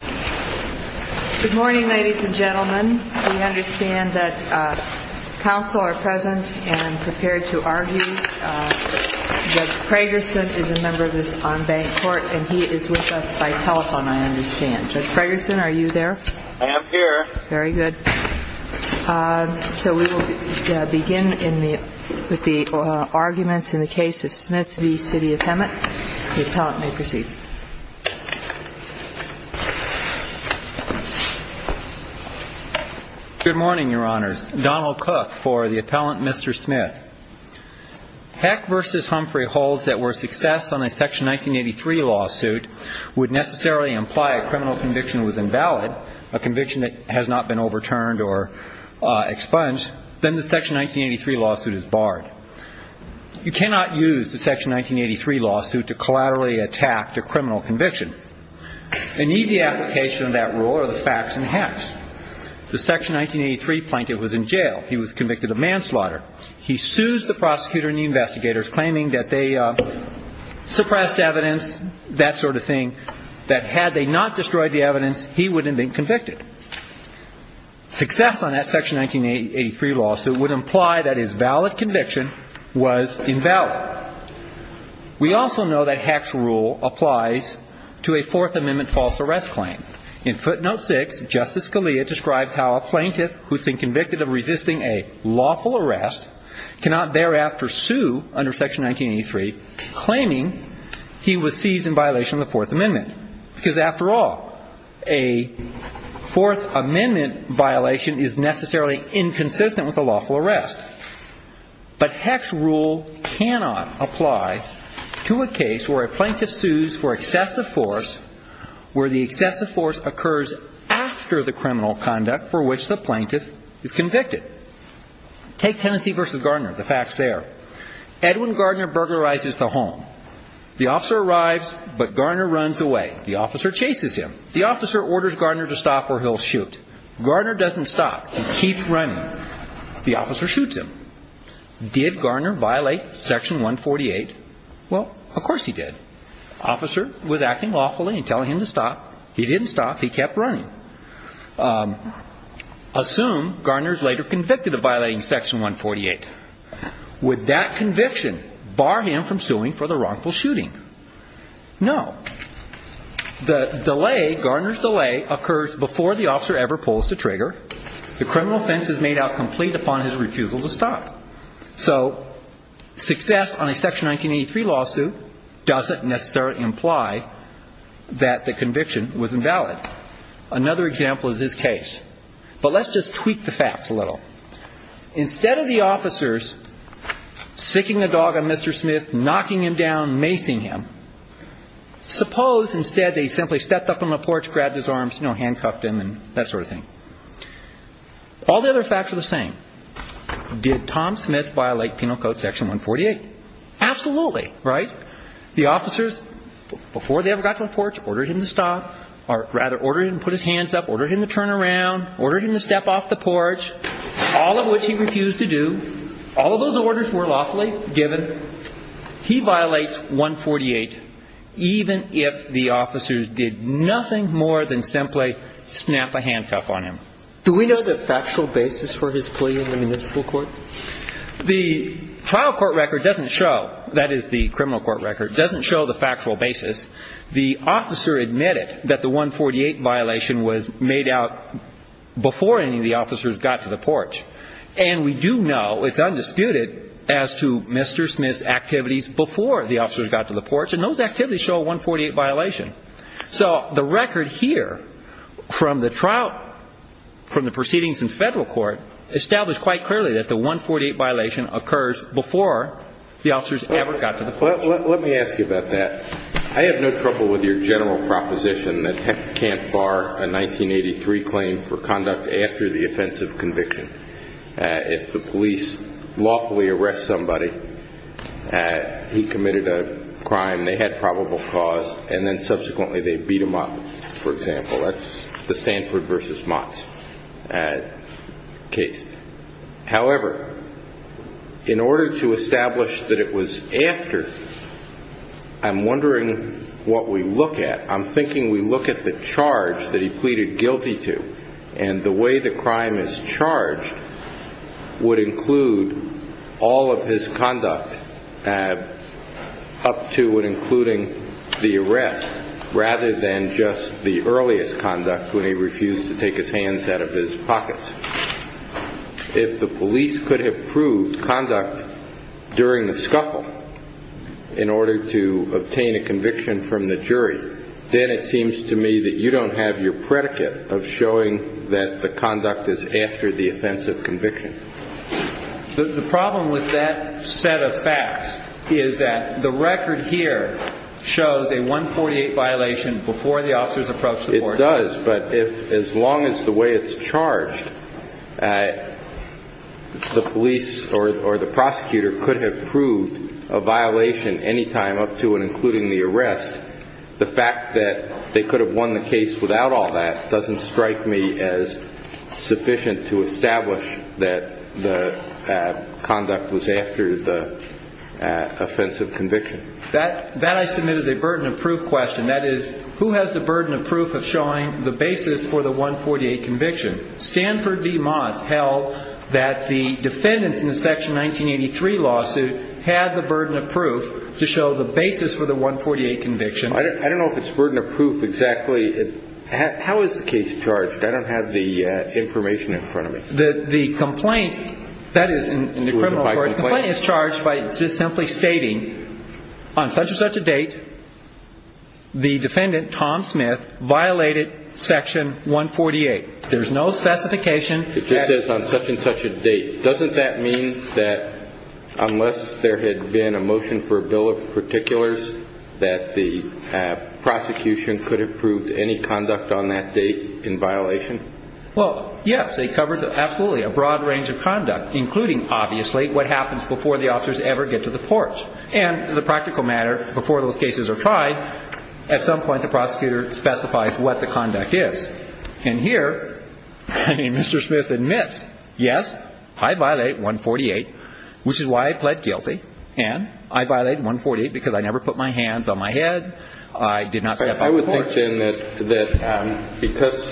Good morning, ladies and gentlemen. We understand that counsel are present and prepared to argue. Judge Fragerson is a member of this en banc court and he is with us by telephone, I understand. Judge Fragerson, are you there? I am here. Very good. So we will begin with the arguments in the case of Smith v. City of Hemet. The appellant may proceed. Good morning, Your Honors. Donald Cook for the appellant, Mr. Smith. Heck v. Humphrey holds that where success on a Section 1983 lawsuit would necessarily imply a criminal conviction was invalid, a conviction that has not been overturned or expunged, then the Section 1983 lawsuit is barred. You cannot use the Section 1983 lawsuit to collaterally attack the criminal conviction. An easy application of that rule are the facts in Heck's. The Section 1983 plaintiff was in jail. He was convicted of manslaughter. He sues the prosecutor and the investigators, claiming that they suppressed evidence, that sort of thing, that had they not destroyed the evidence, he wouldn't have been convicted. Success on that Section 1983 lawsuit would imply that his valid conviction was invalid. We also know that Heck's rule applies to a Fourth Amendment false arrest claim. In footnote 6, Justice Scalia describes how a plaintiff who has been convicted of resisting a lawful arrest cannot thereafter sue under Section 1983, claiming he was seized in violation of the Fourth Amendment, because after all, a Fourth Amendment violation is necessarily inconsistent with a lawful arrest. But Heck's rule cannot apply to a case where a plaintiff sues for excessive force, where the excessive force occurs after the criminal conduct for which the plaintiff is convicted. Take Tennessee v. Gardner, the facts there. Edwin Gardner burglarizes the home. The officer arrives, but Gardner runs away. The officer chases him. The officer orders Gardner to stop or he'll shoot. Gardner doesn't stop. He keeps running. The officer shoots him. Did Gardner violate Section 148? Well, of course he did. The officer was acting lawfully and telling him to stop. He didn't stop. He kept running. Assume Gardner is later convicted of violating Section 148. Would that conviction bar him from suing for the wrongful shooting? No. The delay, Gardner's delay, occurs before the officer ever pulls the trigger. The criminal offense is made out complete upon his refusal to stop. So success on a Section 1983 lawsuit doesn't necessarily imply that the conviction was invalid. Another example is this case. But let's just tweak the facts a little. Instead of the officers siccing the dog on Mr. Smith, knocking him down, macing him, suppose instead they simply stepped up on the porch, grabbed his arms, you know, handcuffed him and that sort of thing. All the other facts are the same. Did Tom Smith violate Penal Code Section 148? Absolutely. Right? The officers, before they ever got to the porch, ordered him to stop, or rather ordered him to put his hands up, ordered him to turn around, ordered him to step off the porch, all of which he refused to do. All of those orders were lawfully given. He violates 148, even if the officers did nothing more than simply snap a handcuff on him. Do we know the factual basis for his plea in the municipal court? The trial court record doesn't show, that is the criminal court record, doesn't show the factual basis. The officer admitted that the 148 violation was made out before any of the officers got to the porch. And we do know, it's undisputed, as to Mr. Smith's activities before the officers got to the porch. And those activities show a 148 violation. So the record here from the trial, from the proceedings in federal court, established quite clearly that the 148 violation occurs before the officers ever got to the porch. Let me ask you about that. I have no trouble with your general proposition that you can't bar a 1983 claim for conduct after the offensive conviction. If the police lawfully arrest somebody, he committed a crime, they had probable cause, and then subsequently they beat him up, for example. That's the Sanford v. Motts case. However, in order to establish that it was after, I'm wondering what we look at. I'm thinking we look at the charge that he pleaded guilty to, and the way the crime is charged would include all of his conduct up to and including the arrest, rather than just the earliest conduct when he refused to take his hands out of his pockets. If the police could have proved conduct during the scuffle in order to obtain a conviction from the jury, then it seems to me that you don't have your predicate of showing that the conduct is after the offensive conviction. The problem with that set of facts is that the record here shows a 148 violation before the officers approached the porch. It does, but as long as the way it's charged, the police or the prosecutor could have proved a violation any time up to and including the arrest. The fact that they could have won the case without all that doesn't strike me as sufficient to establish that the conduct was after the offensive conviction. That, I submit, is a burden of proof question. That is, who has the burden of proof of showing the basis for the 148 conviction? Stanford v. Moss held that the defendants in the Section 1983 lawsuit had the burden of proof to show the basis for the 148 conviction. I don't know if it's burden of proof exactly. How is the case charged? I don't have the information in front of me. The complaint, that is, in the criminal court, the complaint is charged by just simply stating, on such and such a date, the defendant, Tom Smith, violated Section 148. There's no specification. It just says on such and such a date. Doesn't that mean that unless there had been a motion for a bill of particulars that the prosecution could have proved any conduct on that date in violation? Well, yes. It covers absolutely a broad range of conduct, including, obviously, what happens before the officers ever get to the porch. And as a practical matter, before those cases are tried, at some point the prosecutor specifies what the conduct is. And here Mr. Smith admits, yes, I violate 148, which is why I pled guilty. And I violate 148 because I never put my hands on my head, I did not step on the porch. But I would imagine that because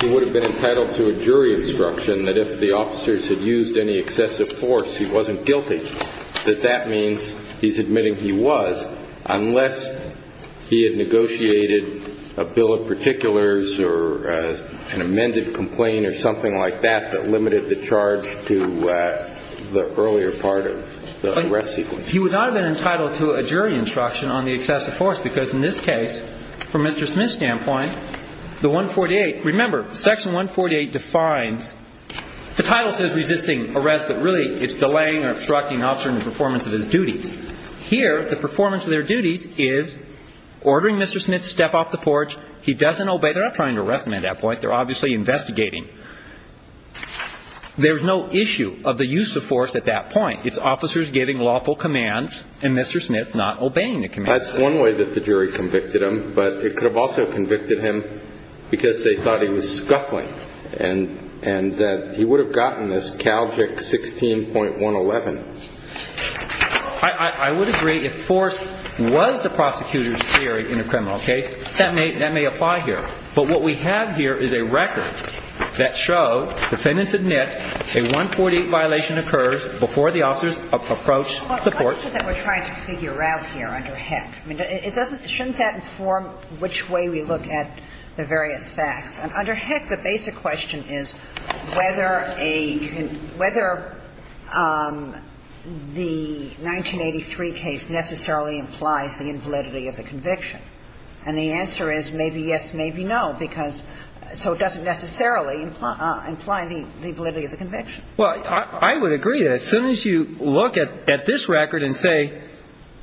he would have been entitled to a jury instruction that if the officers had used any excessive force, he wasn't guilty, that that means he's admitting he was, unless he had negotiated a bill of particulars or an amended complaint or something like that that limited the charge to the earlier part of the arrest sequence. He would not have been entitled to a jury instruction on the excessive force because, in this case, from Mr. Smith's standpoint, the 148, remember, Section 148 defines, the title says resisting arrest, but really it's delaying or obstructing an officer in the performance of his duties. Here, the performance of their duties is ordering Mr. Smith to step off the porch. He doesn't obey. They're not trying to arrest him at that point. They're obviously investigating. There's no issue of the use of force at that point. It's officers giving lawful commands and Mr. Smith not obeying the commands. That's one way that the jury convicted him. But it could have also convicted him because they thought he was scuffling and that he would have gotten this Calgic 16.111. I would agree if force was the prosecutor's theory in a criminal case. That may apply here. But what we have here is a record that shows defendants admit a 148 violation occurs before the officers approach the court. But what is it that we're trying to figure out here under Heck? I mean, it doesn't – shouldn't that inform which way we look at the various facts? And under Heck, the basic question is whether a – whether the 1983 case necessarily implies the invalidity of the conviction. And the answer is maybe yes, maybe no, because – so it doesn't necessarily imply the invalidity of the conviction. Well, I would agree that as soon as you look at this record and say,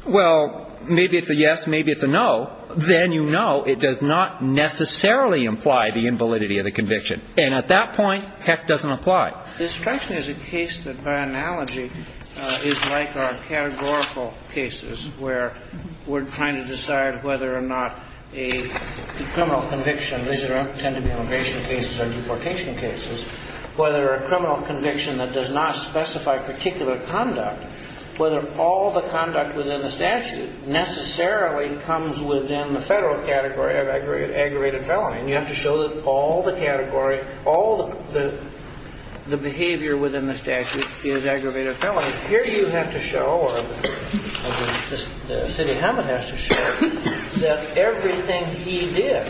well, maybe it's a yes, maybe it's a no, then you know it does not necessarily imply the invalidity of the conviction. And at that point, Heck doesn't apply. Destruction is a case that, by analogy, is like our categorical cases where we're trying to decide whether or not a criminal conviction – these tend to be immigration cases or deportation cases – whether a criminal conviction that does not specify particular conduct, whether all the conduct within the statute necessarily comes within the federal category of aggravated felony. And you have to show that all the category, all the behavior within the statute is aggravated felony. And here you have to show, or the city of Hammond has to show, that everything he did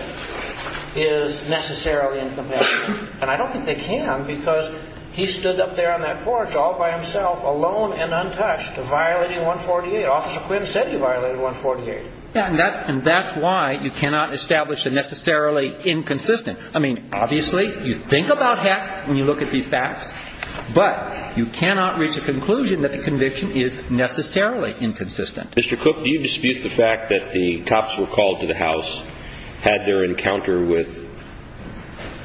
is necessarily incompatible. And I don't think they can because he stood up there on that porch all by himself, alone and untouched, violating 148. Officer Quinn said he violated 148. Yeah, and that's why you cannot establish a necessarily inconsistent – I mean, obviously, you think about Heck when you look at these facts, but you cannot reach a conclusion that the conviction is necessarily inconsistent. Mr. Cook, do you dispute the fact that the cops were called to the house, had their encounter with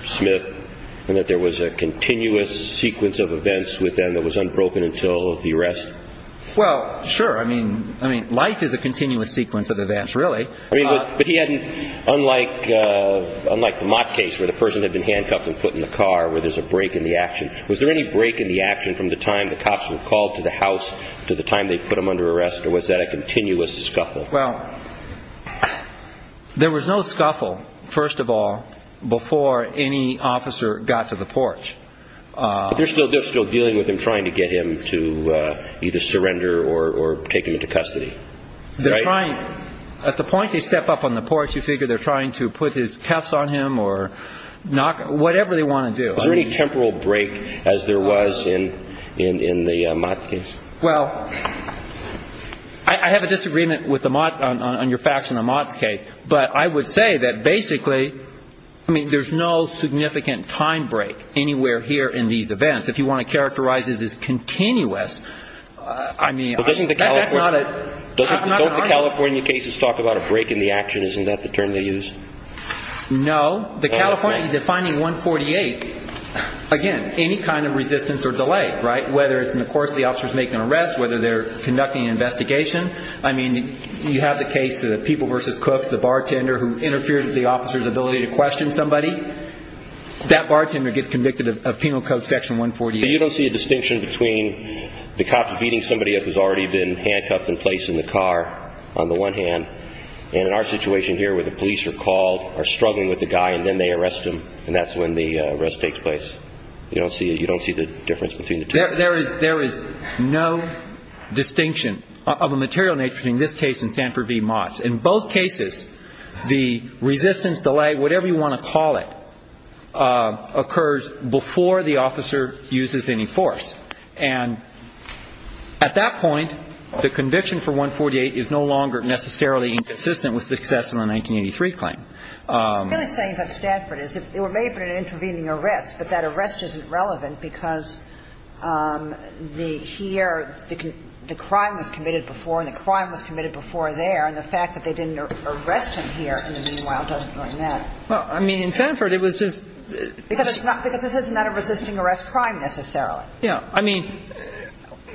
Smith, and that there was a continuous sequence of events with them that was unbroken until the arrest? Well, sure. I mean, life is a continuous sequence of events, really. I mean, but he hadn't – unlike the Mott case where the person had been handcuffed and put in the car, where there's a break in the action. Was there any break in the action from the time the cops were called to the house to the time they put him under arrest, or was that a continuous scuffle? Well, there was no scuffle, first of all, before any officer got to the porch. But they're still dealing with him, trying to get him to either surrender or take him into custody, right? They're trying – at the point they step up on the porch, you figure they're trying to put his cuffs on him or knock – whatever they want to do. Was there any temporal break as there was in the Mott case? Well, I have a disagreement with the Mott – on your facts on the Mott case. But I would say that basically, I mean, there's no significant time break anywhere here in these events. If you want to characterize it as continuous, I mean, that's not an argument. But doesn't the California cases talk about a break in the action? Isn't that the term they use? No. The California – defining 148, again, any kind of resistance or delay, right? Whether it's in the course of the officer's making an arrest, whether they're conducting an investigation. I mean, you have the case of the people versus cooks, the bartender who interfered with the officer's ability to question somebody. That bartender gets convicted of Penal Code Section 148. But you don't see a distinction between the cop beating somebody up who's already been handcuffed and placed in the car, on the one hand, and in our situation here where the police are called, are struggling with the guy, and then they arrest him, and that's when the arrest takes place. You don't see the difference between the two. There is no distinction of a material nature between this case and Sanford v. Mott. In both cases, the resistance, delay, whatever you want to call it, occurs before the officer uses any force. And at that point, the conviction for 148 is no longer necessarily inconsistent with success in the 1983 claim. I'm really saying that Stanford is. They were made for an intervening arrest, but that arrest isn't relevant because the here, the crime was committed before, and the crime was committed before there, and the fact that they didn't arrest him here in the meanwhile doesn't really matter. Well, I mean, in Sanford, it was just – Because it's not – because this is not a resisting arrest crime necessarily. Yeah. I mean,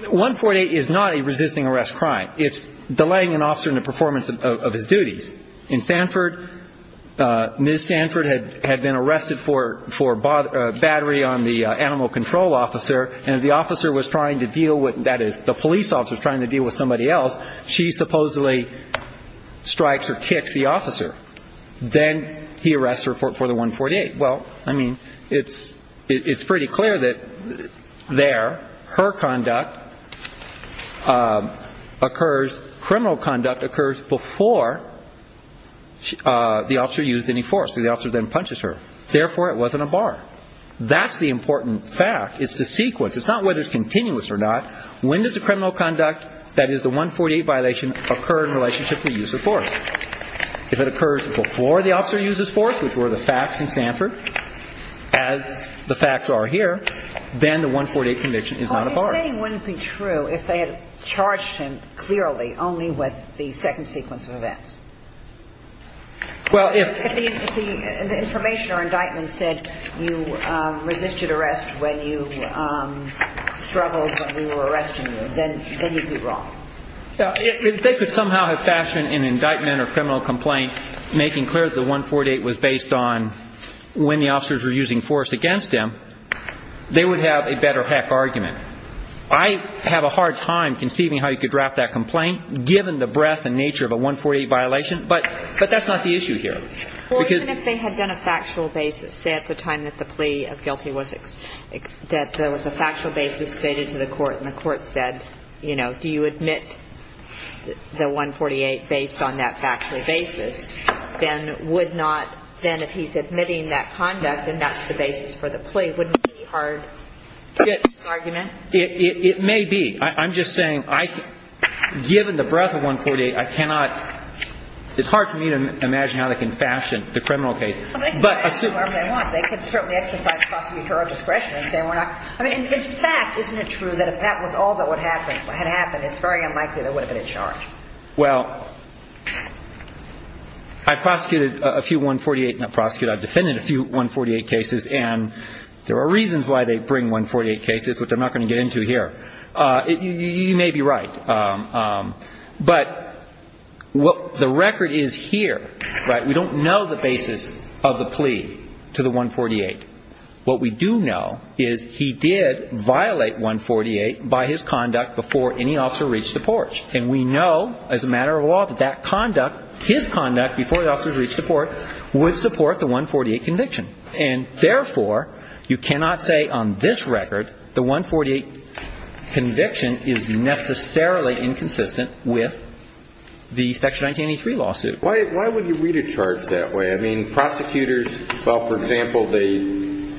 148 is not a resisting arrest crime. It's delaying an officer in the performance of his duties. In Sanford, Ms. Sanford had been arrested for battery on the animal control officer, and as the officer was trying to deal with – that is, the police officer was trying to deal with somebody else, she supposedly strikes or kicks the officer. Then he arrests her for the 148. Well, I mean, it's pretty clear that there her conduct occurs – criminal conduct occurs before the officer used any force. The officer then punches her. Therefore, it wasn't a bar. That's the important fact. It's the sequence. It's not whether it's continuous or not. When does the criminal conduct, that is, the 148 violation, occur in relationship to the use of force? If it occurs before the officer uses force, which were the facts in Sanford, as the facts are here, then the 148 conviction is not a bar. Well, you're saying it wouldn't be true if they had charged him clearly only with the second sequence of events. Well, if – If the information or indictment said you resisted arrest when you struggled when we were arresting you, then you'd be wrong. If they could somehow have fashioned an indictment or criminal complaint making clear that the 148 was based on when the officers were using force against them, they would have a better heck argument. I have a hard time conceiving how you could draft that complaint, given the breadth and nature of a 148 violation. But that's not the issue here. Well, even if they had done a factual basis, say at the time that the plea of guilty was – that there was a factual basis stated to the court, and the court said, you know, do you admit the 148 based on that factual basis, then would not – then if he's admitting that conduct and that's the basis for the plea, wouldn't it be hard to get to this argument? It may be. I'm just saying, given the breadth of 148, I cannot – it's hard for me to imagine how they can fashion the criminal case. They can fashion it however they want. They can certainly exercise prosecutorial discretion and say we're not – I mean, in fact, isn't it true that if that was all that had happened, it's very unlikely there would have been a charge? Well, I prosecuted a few 148 – not prosecuted, I defended a few 148 cases, and there are reasons why they bring 148 cases, which I'm not going to get into here. You may be right. But the record is here, right? We don't know the basis of the plea to the 148. What we do know is he did violate 148 by his conduct before any officer reached the porch. And we know as a matter of law that that conduct, his conduct before the officer reached the porch, would support the 148 conviction. And therefore, you cannot say on this record the 148 conviction is necessarily inconsistent with the Section 1983 lawsuit. Why would you read a charge that way? I mean, prosecutors, well, for example, they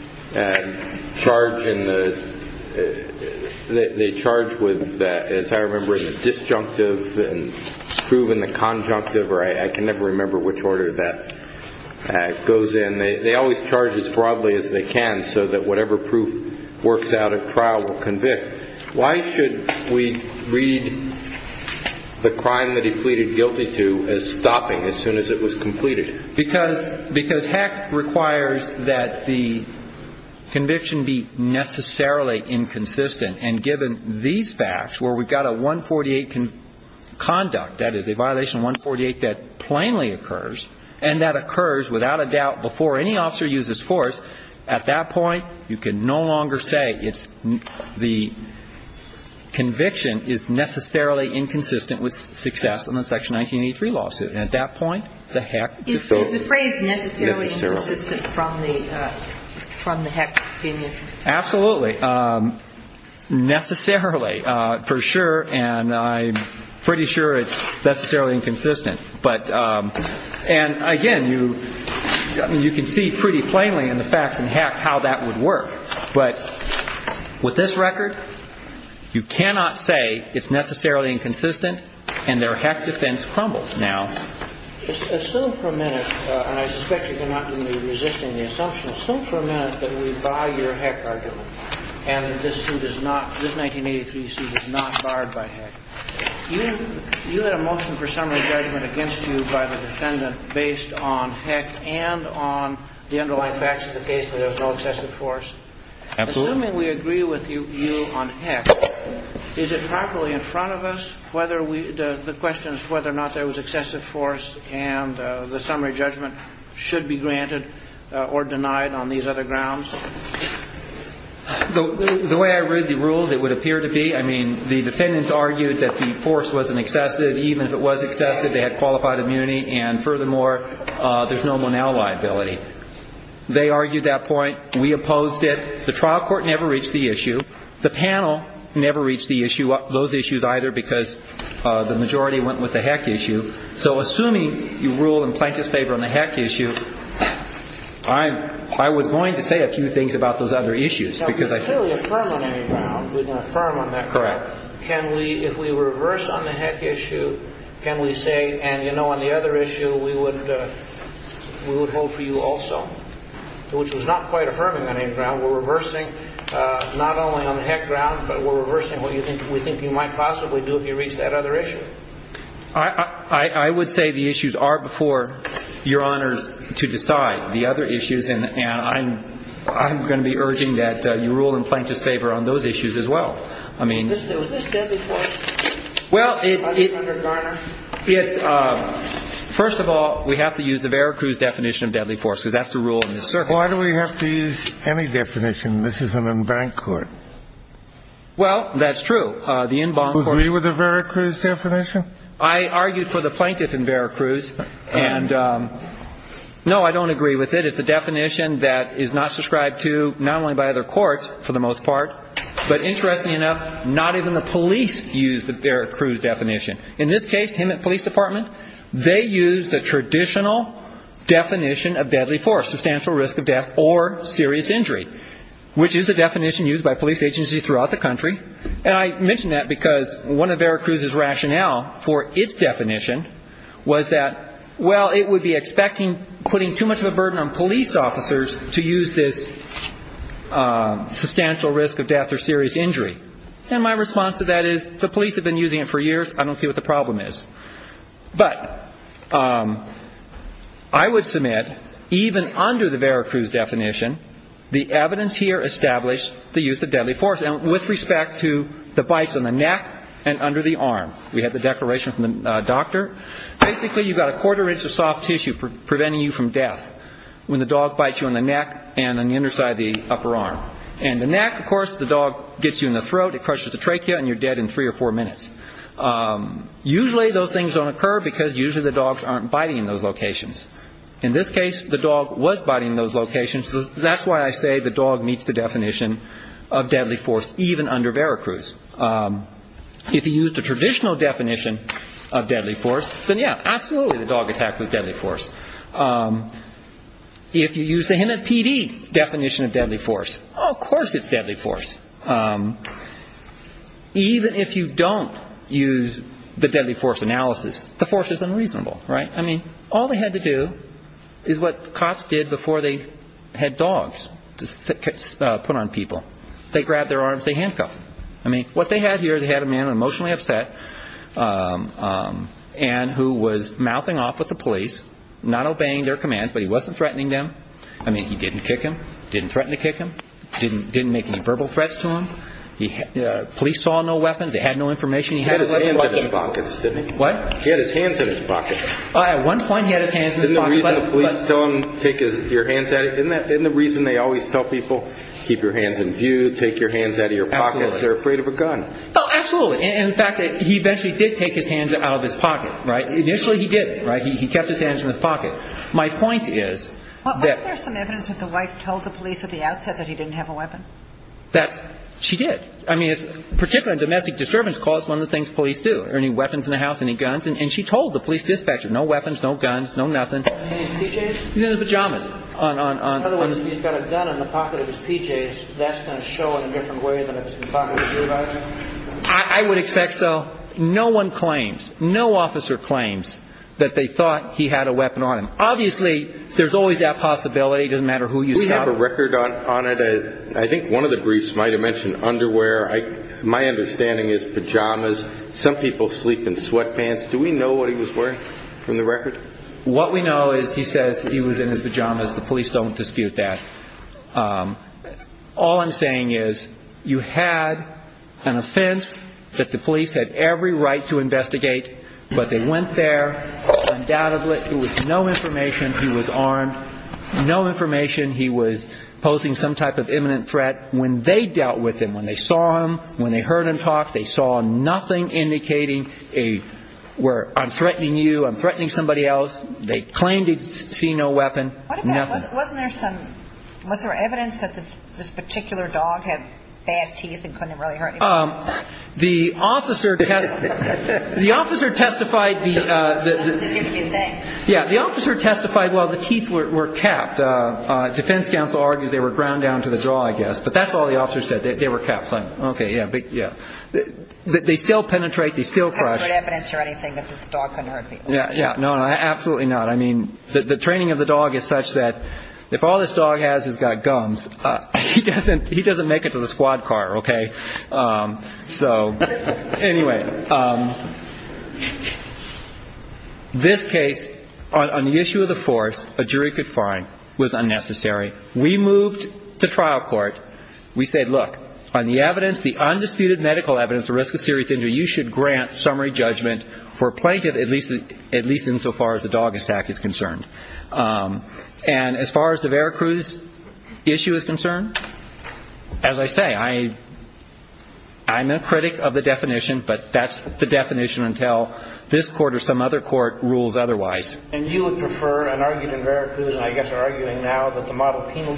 charge with, as I remember, the disjunctive and prove in the conjunctive, or I can never remember which order that goes in. They always charge as broadly as they can so that whatever proof works out at trial will convict. Why should we read the crime that he pleaded guilty to as stopping as soon as it was completed? Because heck requires that the conviction be necessarily inconsistent. And given these facts, where we've got a 148 conduct, that is, a violation of 148 that plainly occurs, and that occurs without a doubt before any officer uses force, at that point you can no longer say it's the conviction is necessarily inconsistent with success in the Section 1983 lawsuit. And at that point, the heck. Is the phrase necessarily inconsistent from the heck opinion? Absolutely. Necessarily, for sure, and I'm pretty sure it's necessarily inconsistent. And, again, you can see pretty plainly in the facts and heck how that would work. But with this record, you cannot say it's necessarily inconsistent and their heck defense crumbles now. Assume for a minute, and I suspect you're not going to be resisting the assumption, assume for a minute that we buy your heck argument and that this suit is not, this 1983 suit is not barred by heck. You had a motion for summary judgment against you by the defendant based on heck and on the underlying facts of the case where there was no excessive force. Absolutely. Assuming we agree with you on heck, is it properly in front of us whether we, the question is whether or not there was excessive force and the summary judgment should be granted or denied on these other grounds? The way I read the rules, it would appear to be, I mean, the defendants argued that the force wasn't excessive, even if it was excessive, they had qualified immunity, and furthermore, there's no Monell liability. They argued that point. We opposed it. The trial court never reached the issue. The panel never reached the issue, those issues either, because the majority went with the heck issue. So assuming you rule in Plankett's favor on the heck issue, I was going to say a few things about those other issues because I think we're going to affirm on that. Correct. Can we, if we reverse on the heck issue, can we say, and, you know, on the other issue, we would hold for you also, which was not quite affirming on any ground. We're reversing not only on the heck ground, but we're reversing what you think we think you might possibly do if you reach that other issue. I would say the issues are before Your Honors to decide the other issues, and I'm going to be urging that you rule in Plankett's favor on those issues as well. I mean. Was this deadly force? Well, it. Under Garner? First of all, we have to use the Vera Cruz definition of deadly force because that's the rule in this circuit. Why do we have to use any definition? This isn't in bank court. Well, that's true. The inbound court. Do you agree with the Vera Cruz definition? I argued for the plaintiff in Vera Cruz, and no, I don't agree with it. It's a definition that is not subscribed to not only by other courts for the most part, but interestingly enough, not even the police use the Vera Cruz definition. In this case, him at police department, they used the traditional definition of deadly force, substantial risk of death or serious injury, which is the definition used by police agencies throughout the country. And I mention that because one of Vera Cruz's rationale for its definition was that, well, it would be expecting putting too much of a burden on police officers to use this substantial risk of death or serious injury. And my response to that is the police have been using it for years. I don't see what the problem is. But I would submit even under the Vera Cruz definition, the evidence here established the use of deadly force. And with respect to the bites on the neck and under the arm, we had the declaration from the doctor. Basically, you've got a quarter inch of soft tissue preventing you from death when the dog bites you on the neck and on the underside of the upper arm. And the neck, of course, the dog gets you in the throat. It crushes the trachea and you're dead in three or four minutes. Usually those things don't occur because usually the dogs aren't biting in those locations. In this case, the dog was biting in those locations. That's why I say the dog meets the definition of deadly force, even under Vera Cruz. If you use the traditional definition of deadly force, then, yeah, absolutely the dog attacked with deadly force. If you use the Hennepin definition of deadly force, of course it's deadly force. Even if you don't use the deadly force analysis, the force is unreasonable, right? I mean, all they had to do is what cops did before they had dogs put on people. They grabbed their arms, they handcuffed them. I mean, what they had here, they had a man emotionally upset and who was mouthing off with the police, not obeying their commands, but he wasn't threatening them. I mean, he didn't kick him, didn't threaten to kick him, didn't make any verbal threats to him. Police saw no weapons. They had no information. He had his hands in his pockets, didn't he? What? He had his hands in his pockets. At one point he had his hands in his pockets. Isn't the reason the police tell them take your hands out of your pockets, they're afraid of a gun. Oh, absolutely. In fact, he eventually did take his hands out of his pocket, right? Initially he did, right? He kept his hands in his pocket. My point is that. Wasn't there some evidence that the wife told the police at the outset that he didn't have a weapon? That's. She did. I mean, particularly domestic disturbance caused one of the things police do. Are there any weapons in the house? Any guns? And she told the police dispatcher, no weapons, no guns, no nothing. And his PJs? He's in his pajamas. In other words, he's got a gun in the pocket of his PJs. That's going to show in a different way than if it's in the pocket of his earbuds. I would expect so. No one claims, no officer claims that they thought he had a weapon on him. Obviously, there's always that possibility. It doesn't matter who you stop. We have a record on it. I think one of the briefs might have mentioned underwear. My understanding is pajamas. Some people sleep in sweatpants. Do we know what he was wearing from the record? What we know is he says he was in his pajamas. The police don't dispute that. All I'm saying is you had an offense that the police had every right to investigate, but they went there. Undoubtedly, there was no information. He was armed. No information. He was posing some type of imminent threat. When they dealt with him, when they saw him, when they heard him talk, they saw nothing indicating where I'm threatening you, I'm threatening somebody else. They claimed he'd seen no weapon. What about, wasn't there some, was there evidence that this particular dog had bad teeth and couldn't really hurt anybody? The officer testified. The officer testified the teeth were capped. Defense counsel argues they were ground down to the jaw, I guess, but that's all the officer said, that they were capped. Okay. Yeah. They still penetrate. They still crush. There's no evidence or anything that this dog couldn't hurt people. Yeah. No, absolutely not. I mean, the training of the dog is such that if all this dog has is got gums, he doesn't make it to the squad car, okay? So anyway, this case, on the issue of the force, a jury could find was unnecessary. We moved to trial court. We said, look, on the evidence, the undisputed medical evidence, the risk of serious injury, you should grant summary judgment for plaintiff at least insofar as the dog attack is concerned. And as far as the Veracruz issue is concerned, as I say, I'm a critic of the definition, but that's the definition until this court or some other court rules otherwise. And you would prefer, and argued in Veracruz, and I guess you're arguing now that the model penal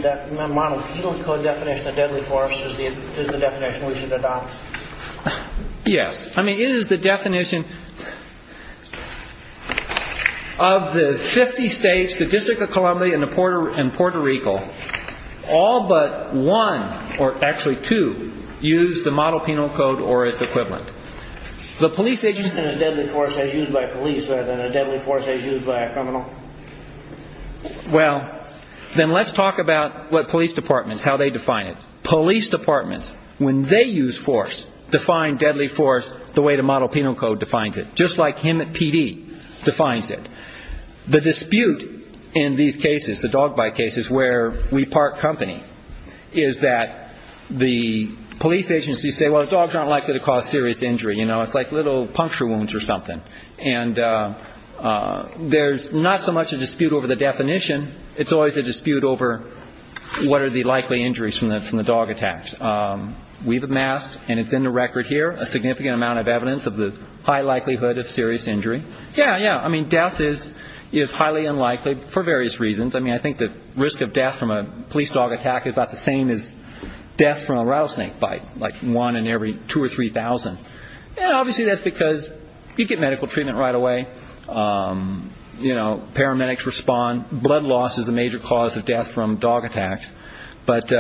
code definition of deadly force is the definition we should adopt? Yes. I mean, it is the definition of the 50 states, the District of Columbia and Puerto Rico, all but one, or actually two, use the model penal code or its equivalent. The police agency is deadly force as used by police rather than a deadly force as used by a criminal? Well, then let's talk about what police departments, how they define it. Police departments, when they use force, define deadly force the way the model penal code defines it, just like him at PD defines it. The dispute in these cases, the dog bite cases where we park company, is that the police agency say, well, dogs aren't likely to cause serious injury. You know, it's like little puncture wounds or something. And there's not so much a dispute over the definition. It's always a dispute over what are the likely injuries from the dog attacks. We've amassed, and it's in the record here, a significant amount of evidence of the high likelihood of serious injury. Yeah, yeah. I mean, death is highly unlikely for various reasons. I mean, I think the risk of death from a police dog attack is about the same as death from a rattlesnake bite, like one in every 2,000 or 3,000. And obviously that's because you get medical treatment right away. You know, paramedics respond. Blood loss is a major cause of death from dog attacks. But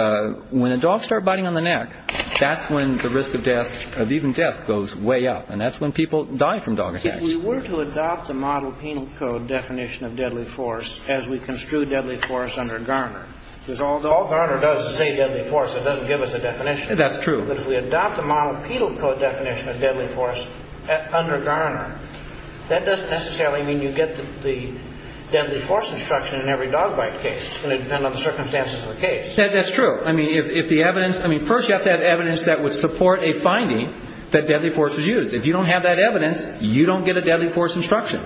when the dogs start biting on the neck, that's when the risk of death, of even death, goes way up. And that's when people die from dog attacks. If we were to adopt the model penal code definition of deadly force as we construe deadly force under Garner, because all Garner does is say deadly force. It doesn't give us a definition. That's true. But if we adopt the model penal code definition of deadly force under Garner, that doesn't necessarily mean you get the deadly force instruction in every dog bite case. It's going to depend on the circumstances of the case. That's true. I mean, first you have to have evidence that would support a finding that deadly force was used. If you don't have that evidence, you don't get a deadly force instruction.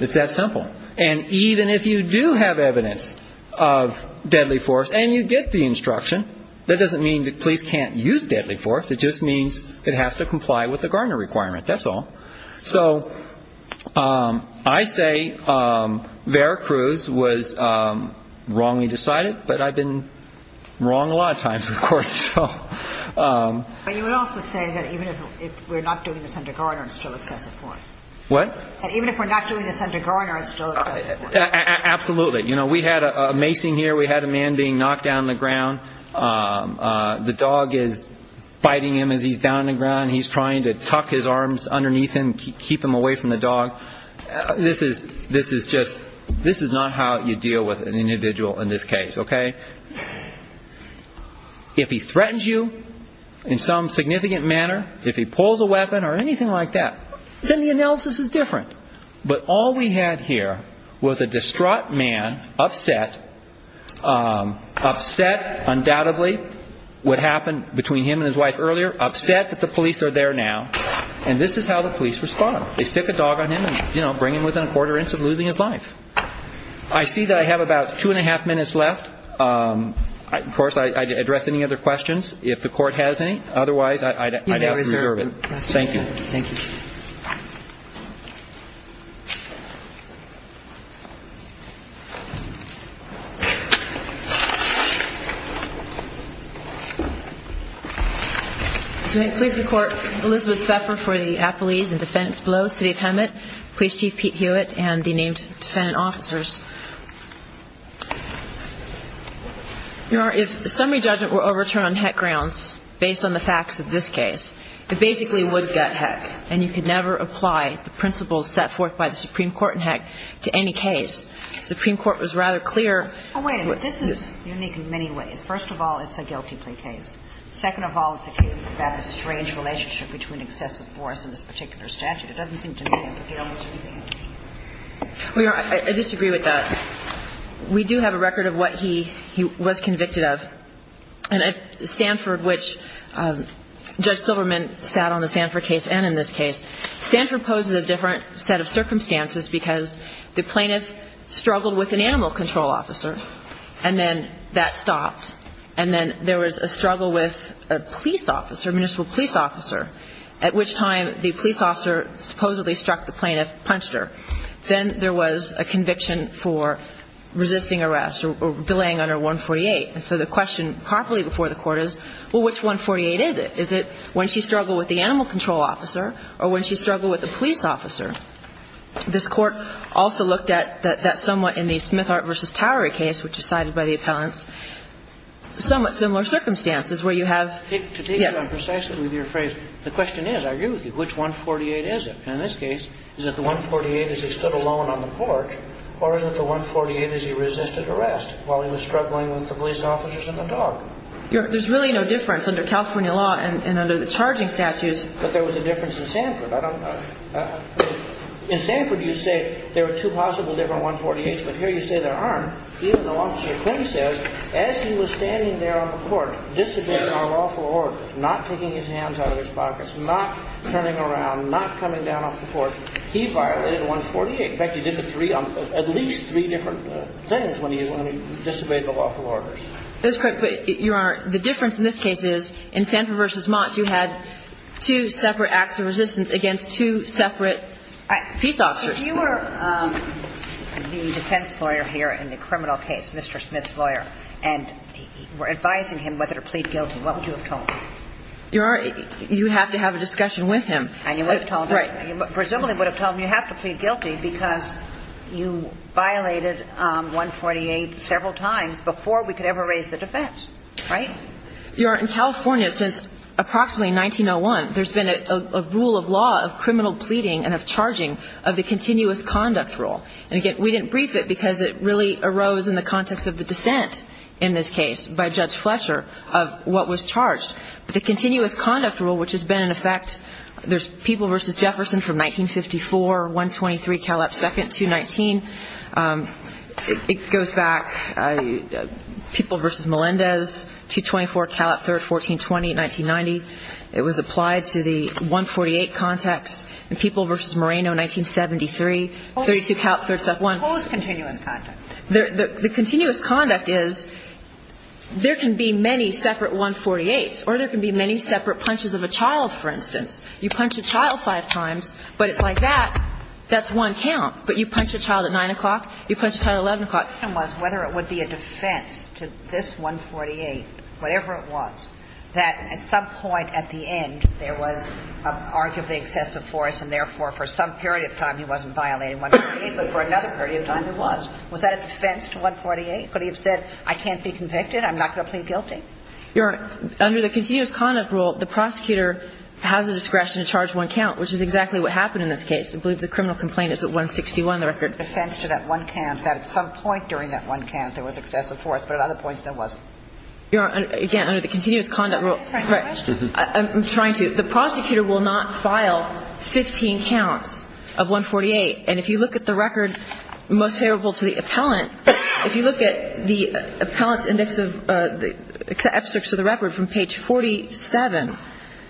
It's that simple. And even if you do have evidence of deadly force and you get the instruction, that doesn't mean the police can't use deadly force. It just means it has to comply with the Garner requirement. That's all. So I say Vera Cruz was wrongly decided, but I've been wrong a lot of times, of course. But you would also say that even if we're not doing this under Garner, it's still excessive force. What? That even if we're not doing this under Garner, it's still excessive force. Absolutely. You know, we had a macing here. We had a man being knocked down on the ground. The dog is biting him as he's down on the ground. He's trying to tuck his arms underneath him, keep him away from the dog. This is just – this is not how you deal with an individual in this case, okay? If he threatens you in some significant manner, if he pulls a weapon or anything like that, then the analysis is different. But all we had here was a distraught man, upset. Upset, undoubtedly, what happened between him and his wife earlier. Upset that the police are there now. And this is how the police respond. They stick a dog on him and, you know, bring him within a quarter inch of losing his life. I see that I have about two-and-a-half minutes left. Of course, I'd address any other questions if the Court has any. Otherwise, I'd ask to reserve it. Thank you. Thank you. So may it please the Court, Elizabeth Pfeffer for the apologies and defense below, Chief Pete Hewitt and the named defendant officers. Your Honor, if the summary judgment were overturned on heck grounds based on the facts of this case, it basically would get heck, and you could never apply the principles set forth by the Supreme Court in heck to any case. The Supreme Court was rather clear. Oh, wait a minute. This is unique in many ways. First of all, it's a guilty plea case. Second of all, it's a case about the strange relationship between excessive force in this particular statute. It doesn't seem to me that they almost do the same. Well, Your Honor, I disagree with that. We do have a record of what he was convicted of. And at Sanford, which Judge Silverman sat on the Sanford case and in this case, Sanford poses a different set of circumstances because the plaintiff struggled with an animal control officer, and then that stopped. And then there was a struggle with a police officer, a municipal police officer, at which time the police officer supposedly struck the plaintiff, punched her. Then there was a conviction for resisting arrest or delaying under 148. And so the question properly before the Court is, well, which 148 is it? Is it when she struggled with the animal control officer or when she struggled with the police officer? This Court also looked at that somewhat in the Smithart v. Towery case, which is cited by the appellants, somewhat similar circumstances where you have, yes. I agree with that. I'm precisely with your phrase. The question is, I agree with you, which 148 is it? And in this case, is it the 148 as he stood alone on the Court or is it the 148 as he resisted arrest while he was struggling with the police officers and the dog? There's really no difference under California law and under the charging statutes. But there was a difference in Sanford. In Sanford, you say there are two possible different 148s, but here you say there aren't, even though Officer Quinn says, as he was standing there on the Court, disobeying our lawful orders, not taking his hands out of his pockets, not turning around, not coming down off the Court. He violated 148. In fact, he did the three on at least three different sentences when he disobeyed the lawful orders. That's correct. But, Your Honor, the difference in this case is in Sanford v. Monts, you had two separate acts of resistance against two separate peace officers. If you were the defense lawyer here in the criminal case, Mr. Smith's lawyer, and were advising him whether to plead guilty, what would you have told him? Your Honor, you would have to have a discussion with him. And you would have told him. Right. Presumably you would have told him you have to plead guilty because you violated 148 several times before we could ever raise the defense. Right? Your Honor, in California, since approximately 1901, there's been a rule of law of criminal pleading and of charging of the continuous conduct rule. And, again, we didn't brief it because it really arose in the context of the dissent in this case by Judge Fletcher of what was charged. But the continuous conduct rule, which has been in effect, there's People v. Jefferson from 1954, 123, 2nd, 219. It goes back, People v. Melendez, 224, 3rd, 1420, 1990. It was applied to the 148 context. And People v. Moreno, 1973, 32 count, 371. Suppose continuous conduct. The continuous conduct is there can be many separate 148s or there can be many separate punches of a child, for instance. You punch a child five times, but it's like that, that's one count. But you punch a child at 9 o'clock, you punch a child at 11 o'clock. My question was whether it would be a defense to this 148, whatever it was, that at some point at the end there was arguably excessive force and therefore for some period of time he wasn't violating 148, but for another period of time he was. Was that a defense to 148? Could he have said, I can't be convicted, I'm not going to plead guilty? Under the continuous conduct rule, the prosecutor has the discretion to charge one count, which is exactly what happened in this case. I believe the criminal complaint is at 161, the record. Defense to that one count, that at some point during that one count there was excessive force, but at other points there wasn't. Again, under the continuous conduct rule. Right. I'm trying to. The prosecutor will not file 15 counts of 148. And if you look at the record most favorable to the appellant, if you look at the appellant's index of the excerpts of the record from page 47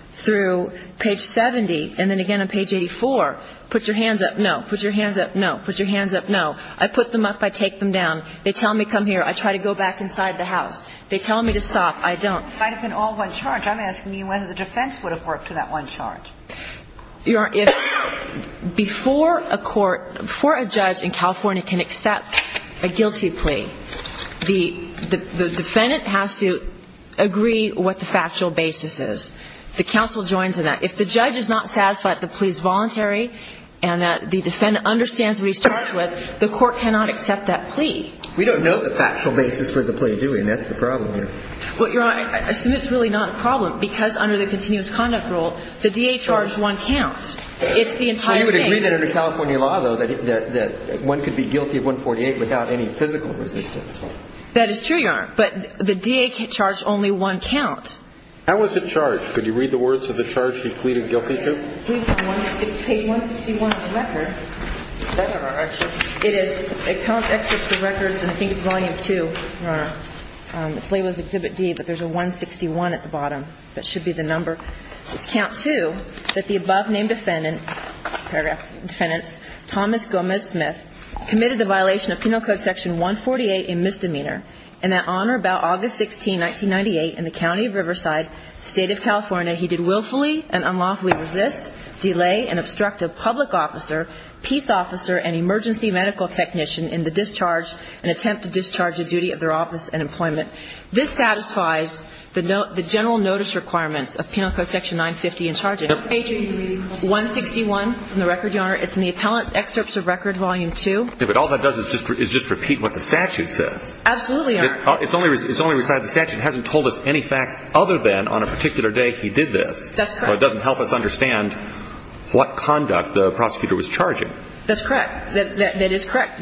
through page 70, and then again on page 84, put your hands up, no. Put your hands up, no. Put your hands up, no. I put them up, I take them down. They tell me, come here. I try to go back inside the house. They tell me to stop. I don't. If I had been all one charge, I'm asking you whether the defense would have worked to that one charge. Your Honor, if before a court, before a judge in California can accept a guilty plea, the defendant has to agree what the factual basis is. The counsel joins in that. If the judge is not satisfied the plea is voluntary and that the defendant understands what he's charged with, the court cannot accept that plea. We don't know the factual basis for the plea, do we? And that's the problem here. Well, Your Honor, I assume it's really not a problem because under the continuous conduct rule, the DA charged one count. It's the entire thing. Well, you would agree that under California law, though, that one could be guilty of 148 without any physical resistance. That is true, Your Honor. But the DA charged only one count. How was it charged? Could you read the words of the charge she pleaded guilty to? Page 161 of the record. That's not our excerpt. It is. It counts excerpts of records, and I think it's volume 2, Your Honor. It's labeled as Exhibit D, but there's a 161 at the bottom. That should be the number. It's count 2, that the above-named defendant, paragraph, defendant, Thomas Gomez Smith, committed the violation of Penal Code Section 148, a misdemeanor, and that on or about August 16, 1998, in the County of Riverside, State of California, he did willfully and unlawfully resist, delay, and obstruct a public officer, peace officer, and emergency medical technician in the discharge and attempt to discharge a duty of their office and employment. This satisfies the general notice requirements of Penal Code Section 950 and charges page 161 from the record, Your Honor. It's in the appellant's excerpts of record, volume 2. Okay, but all that does is just repeat what the statute says. Absolutely, Your Honor. It's only recited. The statute hasn't told us any facts other than on a particular day he did this. That's correct. So it doesn't help us understand what conduct the prosecutor was charging. That's correct. That is correct.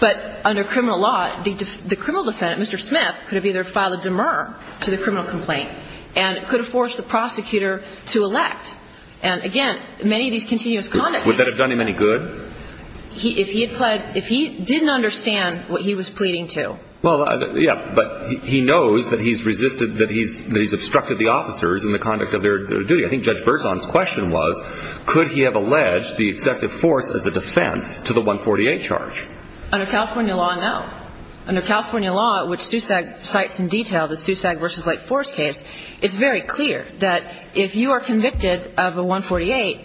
But under criminal law, the criminal defendant, Mr. Smith, could have either filed a demur to the criminal complaint and could have forced the prosecutor to elect. And, again, many of these continuous conducts. Would that have done him any good? If he had pled – if he didn't understand what he was pleading to. Well, yeah, but he knows that he's resisted – that he's obstructed the officers in the conduct of their duty. I think Judge Berzon's question was, could he have alleged the excessive force as a defense to the 148 charge? Under California law, no. Under California law, which SUSAG cites in detail, the SUSAG v. Lake Forest case, it's very clear that if you are convicted of a 148,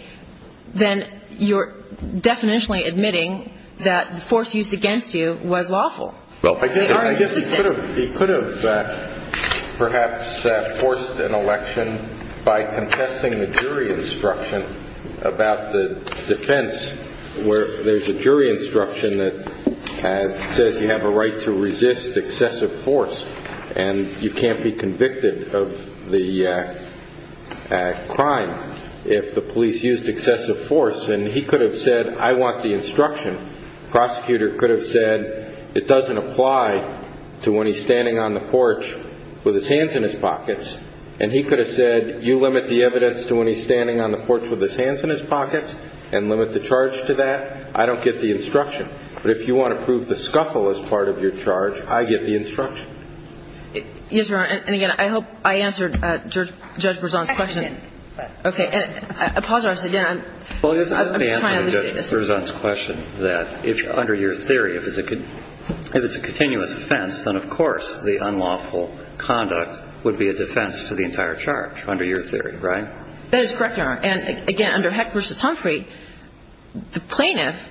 then you're definitionally admitting that the force used against you was lawful. Well, I guess – I guess he could have – he could have perhaps forced an election by contesting the jury instruction about the defense where there's a jury instruction that says you have a right to resist excessive force and you can't be convicted of the crime if the police used excessive force. And he could have said, I want the instruction. Prosecutor could have said, it doesn't apply to when he's standing on the porch with his hands in his pockets. And he could have said, you limit the evidence to when he's standing on the porch with his hands in his pockets and limit the charge to that. I don't get the instruction. But if you want to prove the scuffle as part of your charge, I get the instruction. Yes, Your Honor. And, again, I hope I answered Judge Berzon's question. I think you did. Okay. I apologize again. I'm trying to understand this. I'm trying to understand Judge Berzon's question that, under your theory, if it's a continuous offense, then, of course, the unlawful conduct would be a defense to the entire charge under your theory, right? That is correct, Your Honor. And, again, under Heck v. Humphrey, the plaintiff,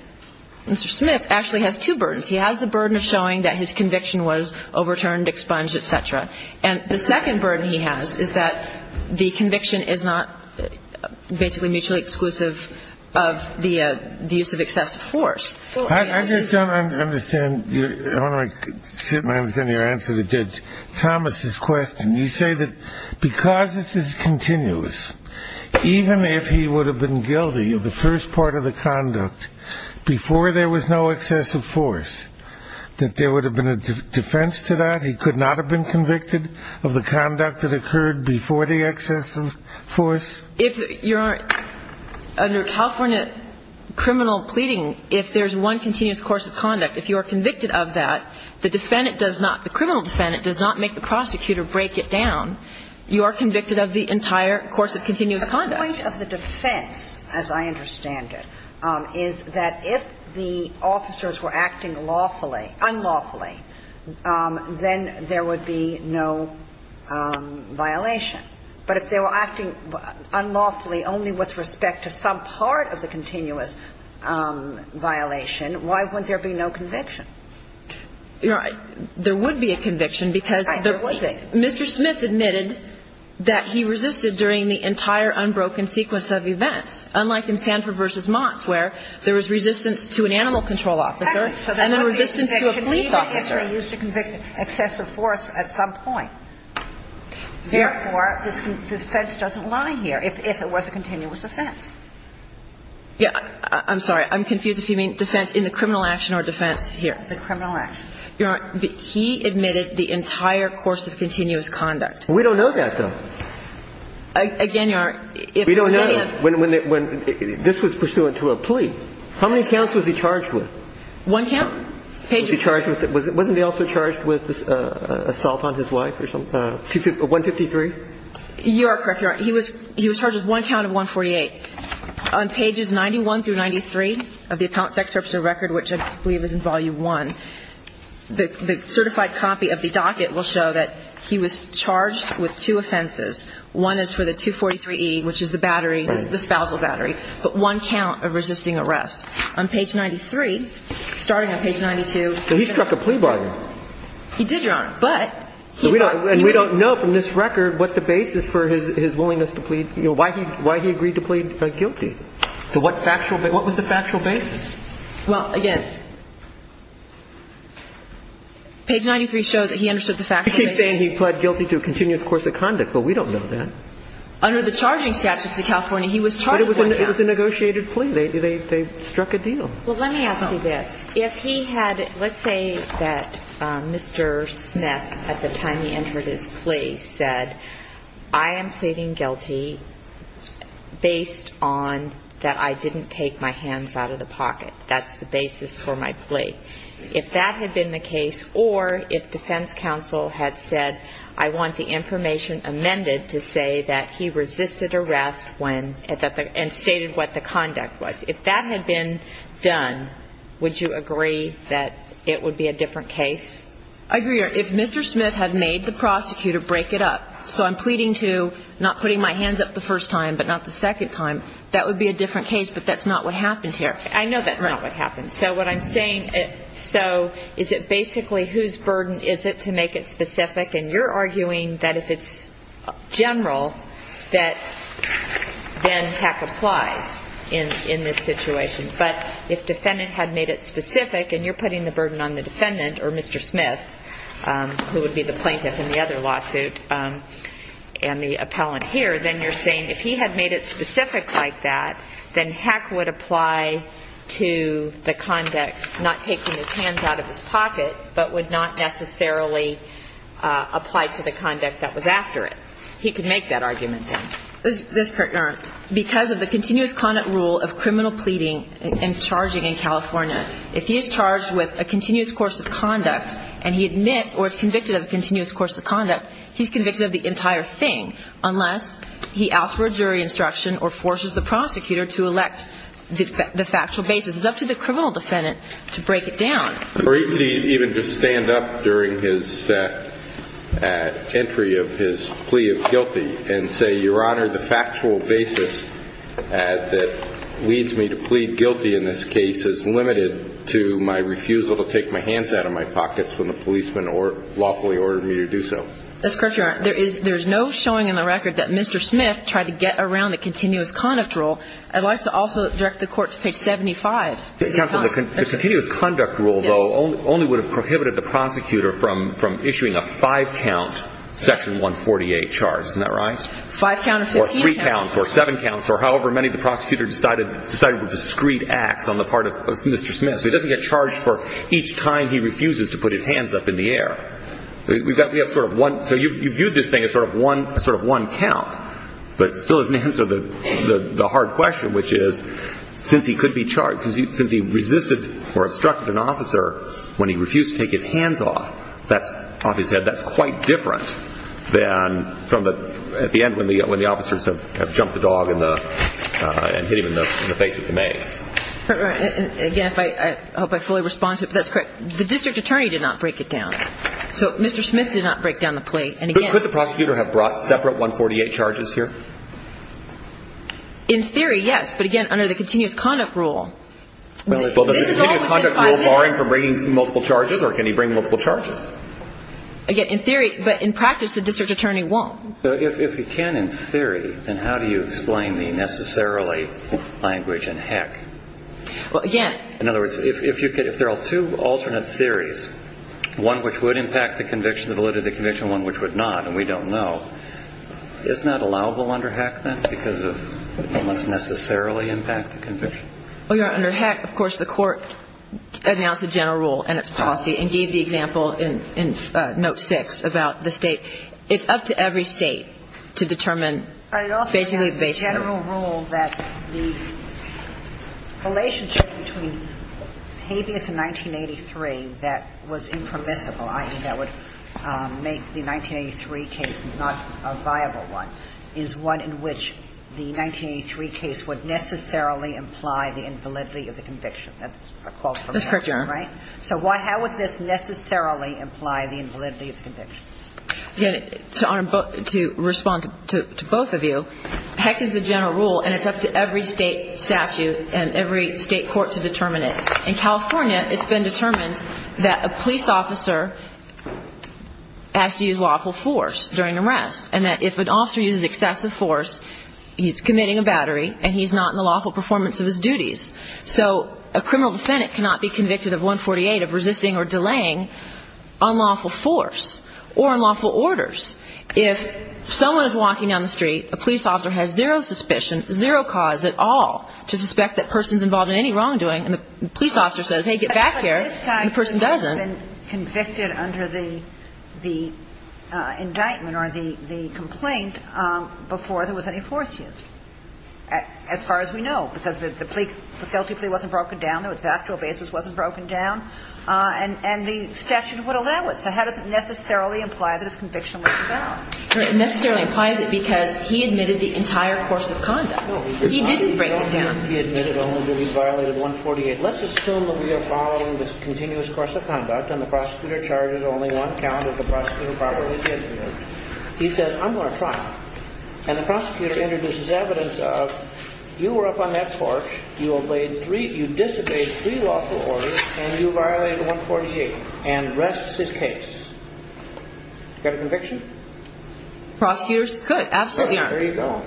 Mr. Smith, actually has two burdens. He has the burden of showing that his conviction was overturned, expunged, et cetera. And the second burden he has is that the conviction is not basically mutually exclusive of the use of excessive force. I just don't understand. I don't understand your answer to Judge Thomas's question. You say that because this is continuous, even if he would have been guilty of the first part of the conduct before there was no excessive force, that there would have been a defense to that? He could not have been convicted of the conduct that occurred before the excessive force? If, Your Honor, under California criminal pleading, if there's one continuous course of conduct, if you are convicted of that, the defendant does not, the criminal defendant does not make the prosecutor break it down. You are convicted of the entire course of continuous conduct. The point of the defense, as I understand it, is that if the officers were acting lawfully, unlawfully, then there would be no violation. But if they were acting unlawfully only with respect to some part of the continuous violation, why wouldn't there be no conviction? There would be a conviction because Mr. Smith admitted that he resisted during the entire unbroken sequence of events, unlike in Sanford v. Moss, where there was resistance to an animal control officer and then resistance to a police officer. I'm sorry. I'm confused if you mean defense in the criminal action or defense here. The criminal action. Your Honor, he admitted the entire course of continuous conduct. We don't know that, though. Again, Your Honor, if any of them We don't know. This was pursuant to a plea. How many counts was he charged with? Was he charged with it? Page. Page. Page. Page. Page. Page. Page. Wasn't he also charged with assault on his wife or something? 153? You are correct, Your Honor. He was charged with one count of 148. On pages 91 through 93 of the Appellant Sex Officer Record, which I believe is in volume 1, the certified copy of the docket will show that he was charged with two offenses. One is for the 243E, which is the battery, the spousal battery, but one count of resisting arrest. On page 93, starting on page 92. He struck a plea bargain. He did, Your Honor. But. And we don't know from this record what the basis for his willingness to plead guilty, why he agreed to plead guilty. What was the factual basis? Well, again, page 93 shows that he understood the factual basis. He keeps saying he pled guilty to a continuous course of conduct, but we don't know that. Under the charging statutes of California, he was charged with one count. But it was a negotiated plea. They struck a deal. Well, let me ask you this. If he had, let's say that Mr. Smith, at the time he entered his plea, said, I am pleading guilty based on that I didn't take my hands out of the pocket. That's the basis for my plea. If that had been the case, or if defense counsel had said, I want the information amended to say that he resisted arrest when, and stated what the conduct was, if that had been done, would you agree that it would be a different case? I agree. If Mr. Smith had made the prosecutor break it up, so I'm pleading to not putting my hands up the first time but not the second time, that would be a different case, but that's not what happens here. I know that's not what happens. So what I'm saying, so is it basically whose burden is it to make it specific? And you're arguing that if it's general, that then heck applies in this situation. But if defendant had made it specific, and you're putting the burden on the defendant, or Mr. Smith, who would be the plaintiff in the other lawsuit, and the appellant here, then you're saying if he had made it specific like that, then heck would apply to the conduct, not taking his hands out of his pocket, but would not necessarily apply to the conduct that was after it. He could make that argument, then. Because of the continuous conduct rule of criminal pleading and charging in California, if he is charged with a continuous course of conduct, and he admits or is convicted of a continuous course of conduct, he's convicted of the entire thing, unless he asks for a jury instruction or forces the prosecutor to elect the factual basis. It's up to the criminal defendant to break it down. Or he could even just stand up during his entry of his plea of guilty and say, Your Honor, the factual basis that leads me to plead guilty in this case is limited to my refusal to take my hands out of my pockets when the policeman lawfully ordered me to do so. That's correct, Your Honor. There is no showing in the record that Mr. Smith tried to get around the continuous conduct rule. I'd like to also direct the Court to page 75. Counsel, the continuous conduct rule, though, only would have prohibited the prosecutor from issuing a five-count Section 148 charge. Isn't that right? Five-count or 15-count. Or three-counts or seven-counts or however many the prosecutor decided was discreet acts on the part of Mr. Smith. So he doesn't get charged for each time he refuses to put his hands up in the air. We've got to get sort of one. So you viewed this thing as sort of one count. But it still doesn't answer the hard question, which is since he could be charged since he resisted or obstructed an officer when he refused to take his hands off, that's quite different than at the end when the officers have jumped the dog and hit him in the face with the mace. Again, I hope I fully respond to it, but that's correct. The district attorney did not break it down. So Mr. Smith did not break down the plate. Could the prosecutor have brought separate 148 charges here? In theory, yes. But, again, under the continuous conduct rule. Well, does the continuous conduct rule bar him from bringing multiple charges or can he bring multiple charges? Again, in theory. But in practice, the district attorney won't. So if he can in theory, then how do you explain the necessarily language and heck? Well, again. In other words, if there are two alternate theories, one which would impact the validity of the conviction and one which would not and we don't know, is not allowable under heck then because it must necessarily impact the conviction? Well, Your Honor, under heck, of course, the court announced a general rule in its policy and gave the example in note 6 about the State. It's up to every State to determine basically the basis. I also have the general rule that the relationship between habeas in 1983 that was impermissible. I mean, that would make the 1983 case not a viable one, is one in which the 1983 case would necessarily imply the invalidity of the conviction. That's a quote from the statute, right? That's correct, Your Honor. So how would this necessarily imply the invalidity of the conviction? Again, to respond to both of you, heck is the general rule and it's up to every State statute and every State court to determine it. In California, it's been determined that a police officer has to use lawful force during an arrest and that if an officer uses excessive force, he's committing a battery and he's not in the lawful performance of his duties. So a criminal defendant cannot be convicted of 148 of resisting or delaying unlawful force or unlawful orders. If someone is walking down the street, a police officer has zero suspicion, zero cause at all to suspect that person's involved in any wrongdoing, and the police officer says, hey, get back here, and the person doesn't. But this guy would have been convicted under the indictment or the complaint before there was any force used, as far as we know, because the plea, the felony plea wasn't broken down, the factual basis wasn't broken down, and the statute would allow it. So how does it necessarily imply that his conviction was invalid? It necessarily implies it because he admitted the entire course of conduct. He didn't break it down. He admitted only that he violated 148. Let's assume that we are following this continuous course of conduct and the prosecutor charges only one count of the prosecuting property. He says, I'm going to try. And the prosecutor introduces evidence of you were up on that porch, you disobeyed three lawful orders, and you violated 148 and rests his case. Got a conviction? Prosecutors could. Absolutely. There you go.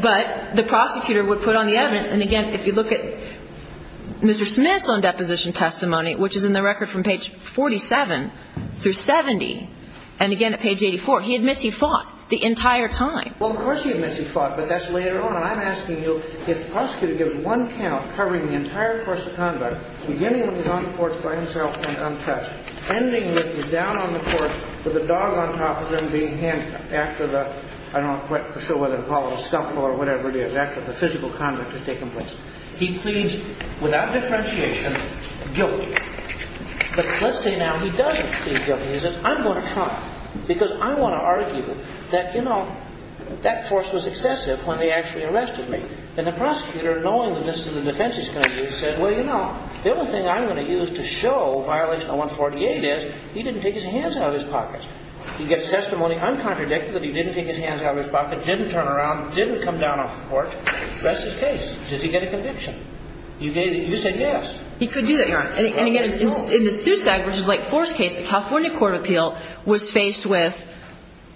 But the prosecutor would put on the evidence, and again, if you look at Mr. Smith's loan deposition testimony, which is in the record from page 47 through 70, and again at page 84, he admits he fought the entire time. Well, of course he admits he fought, but that's later on. And I'm asking you, if the prosecutor gives one count covering the entire course of conduct, beginning when he's on the porch by himself and untouched, ending when he's down on the porch with a dog on top of him being handcuffed after the I'm not quite sure whether to call it a scuffle or whatever it is, after the physical conduct has taken place. He pleads, without differentiation, guilty. But let's say now he doesn't plead guilty. He says, I'm going to try, because I want to argue that, you know, that force was excessive when they actually arrested me. And the prosecutor, knowing that this is the defense he's going to use, said, Well, you know, the only thing I'm going to use to show violation 148 is he didn't take his hands out of his pockets. He gets testimony uncontradicted that he didn't take his hands out of his pockets, didn't turn around, didn't come down off the porch. That's his case. Does he get a conviction? You said yes. He could do that, Your Honor. And again, in the SUSAG v. White Forest case, the California court of appeal was faced with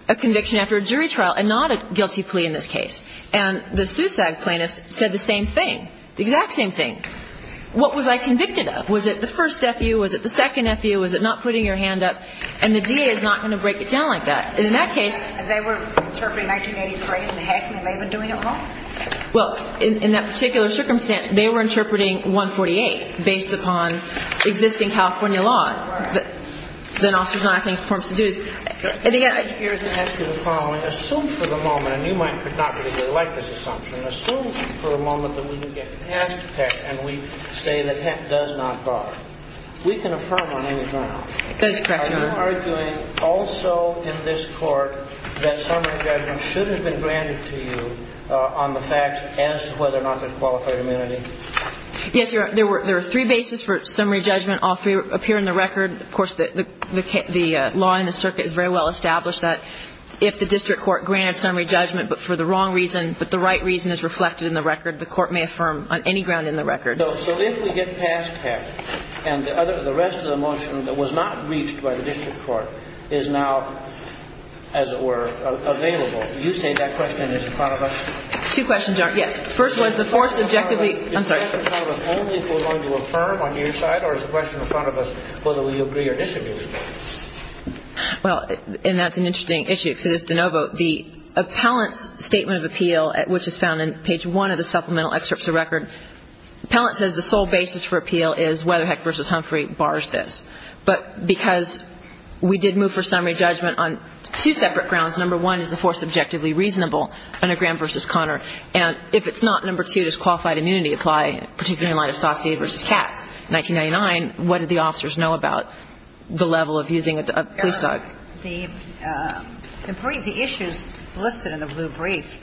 a conviction after a jury trial and not a guilty plea in this case. And the SUSAG plaintiffs said the same thing, the exact same thing. What was I convicted of? Was it the first F.U.? Was it the second F.U.? Was it not putting your hand up? And the DA is not going to break it down like that. And in that case they were interpreting 1983 as a hack and they may have been doing it wrong. Well, in that particular circumstance, they were interpreting 148 based upon existing California law. All right. Then officers not acting in conformance to the duties. Here's the test of the following. Assume for the moment, and you might not particularly like this assumption, but assume for a moment that we can get past HEC and we say that HEC does not bar. We can affirm on any ground. That is correct, Your Honor. Are you arguing also in this court that summary judgment should have been granted to you on the facts as to whether or not there's qualified immunity? Yes, Your Honor. There are three bases for summary judgment. All three appear in the record. Of course, the law in the circuit is very well established that if the district court granted summary judgment, but for the wrong reason, but the right reason is reflected in the record, the court may affirm on any ground in the record. So if we get past HEC and the rest of the motion that was not reached by the district court is now, as it were, available, you say that question is in front of us? Two questions are, yes. The first one is the four subjectively. I'm sorry. Is the question in front of us only if we're going to affirm on your side or is the question in front of us whether we agree or disagree with you? Well, and that's an interesting issue, because it is de novo. The appellant's statement of appeal, which is found in page one of the supplemental excerpts of the record, the appellant says the sole basis for appeal is whether HEC v. Humphrey bars this. But because we did move for summary judgment on two separate grounds, number one is the four subjectively reasonable under Graham v. Conner, and if it's not, number two, does qualified immunity apply, particularly in light of Saussure v. Katz, 1999, what did the officers know about the level of using a police dog? The brief, the issues listed in the blue brief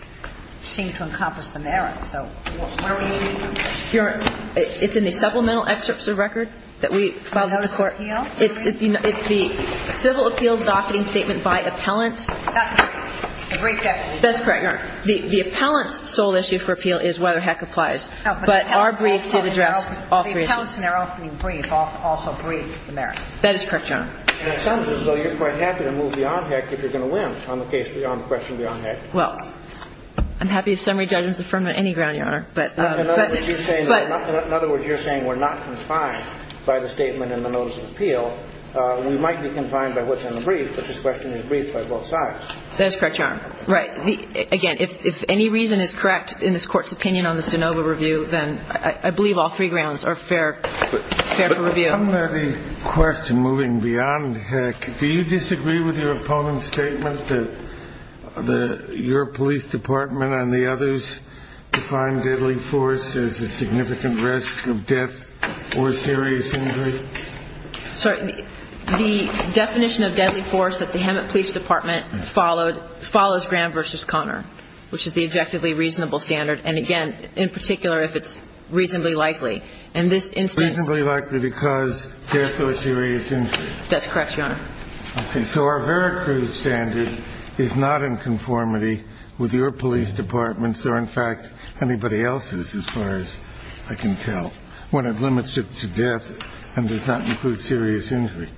seem to encompass the merits. So what are we using? Your Honor, it's in the supplemental excerpts of the record that we filed before. The appeal? It's the civil appeals docketing statement by appellant. That's a brief definition. That's correct, Your Honor. The appellant's sole issue for appeal is whether HEC applies. But our brief did address all three issues. But the accounts in our opening brief also briefed the merits. That is correct, Your Honor. And it sounds as though you're quite happy to move beyond HEC if you're going to win on the case beyond the question beyond HEC. Well, I'm happy if summary judgment is affirmed on any ground, Your Honor. But, but, but. In other words, you're saying we're not confined by the statement in the notice of appeal. We might be confined by what's in the brief, but this question is briefed by both sides. That is correct, Your Honor. Right. Again, if any reason is correct in this Court's opinion on this de novo review, then I believe all three grounds are fair for review. But on the question moving beyond HEC, do you disagree with your opponent's statement that your police department and the others define deadly force as a significant risk of death or serious injury? Sorry. The definition of deadly force that the Hemet Police Department followed follows Graham versus Connor, which is the objectively reasonable standard. And, again, in particular, if it's reasonably likely. In this instance. Reasonably likely because death or serious injury. That's correct, Your Honor. Okay. So our Vera Cruz standard is not in conformity with your police department's or, in fact, anybody else's as far as I can tell, when it limits it to death and does not include serious injury.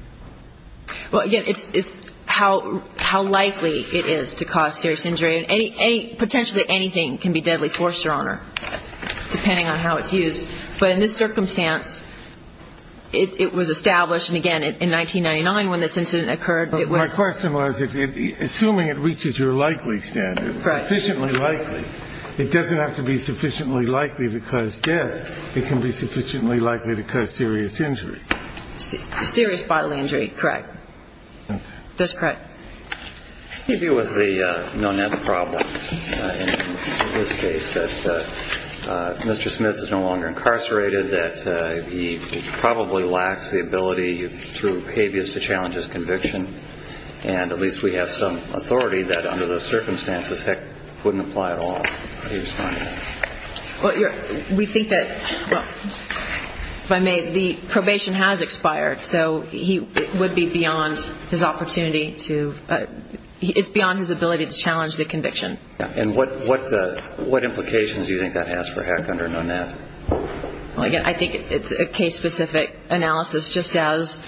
Well, again, it's, it's how, how likely it is to cause serious injury. And potentially anything can be deadly force, Your Honor, depending on how it's used. But in this circumstance, it was established, and, again, in 1999 when this incident occurred. My question was, assuming it reaches your likely standard, sufficiently likely, it doesn't have to be sufficiently likely to cause death. It can be sufficiently likely to cause serious injury. Serious bodily injury. Correct. That's correct. What do you do with the Nonet problem in this case? That Mr. Smith is no longer incarcerated. That he probably lacks the ability through behaviors to challenge his conviction. And at least we have some authority that under those circumstances, heck, wouldn't apply at all. How do you respond to that? Well, we think that, if I may, the probation has expired. So, he would be beyond his opportunity to, it's beyond his ability to challenge the conviction. And what, what, what implications do you think that has for Heck under Nonet? Well, again, I think it's a case-specific analysis, just as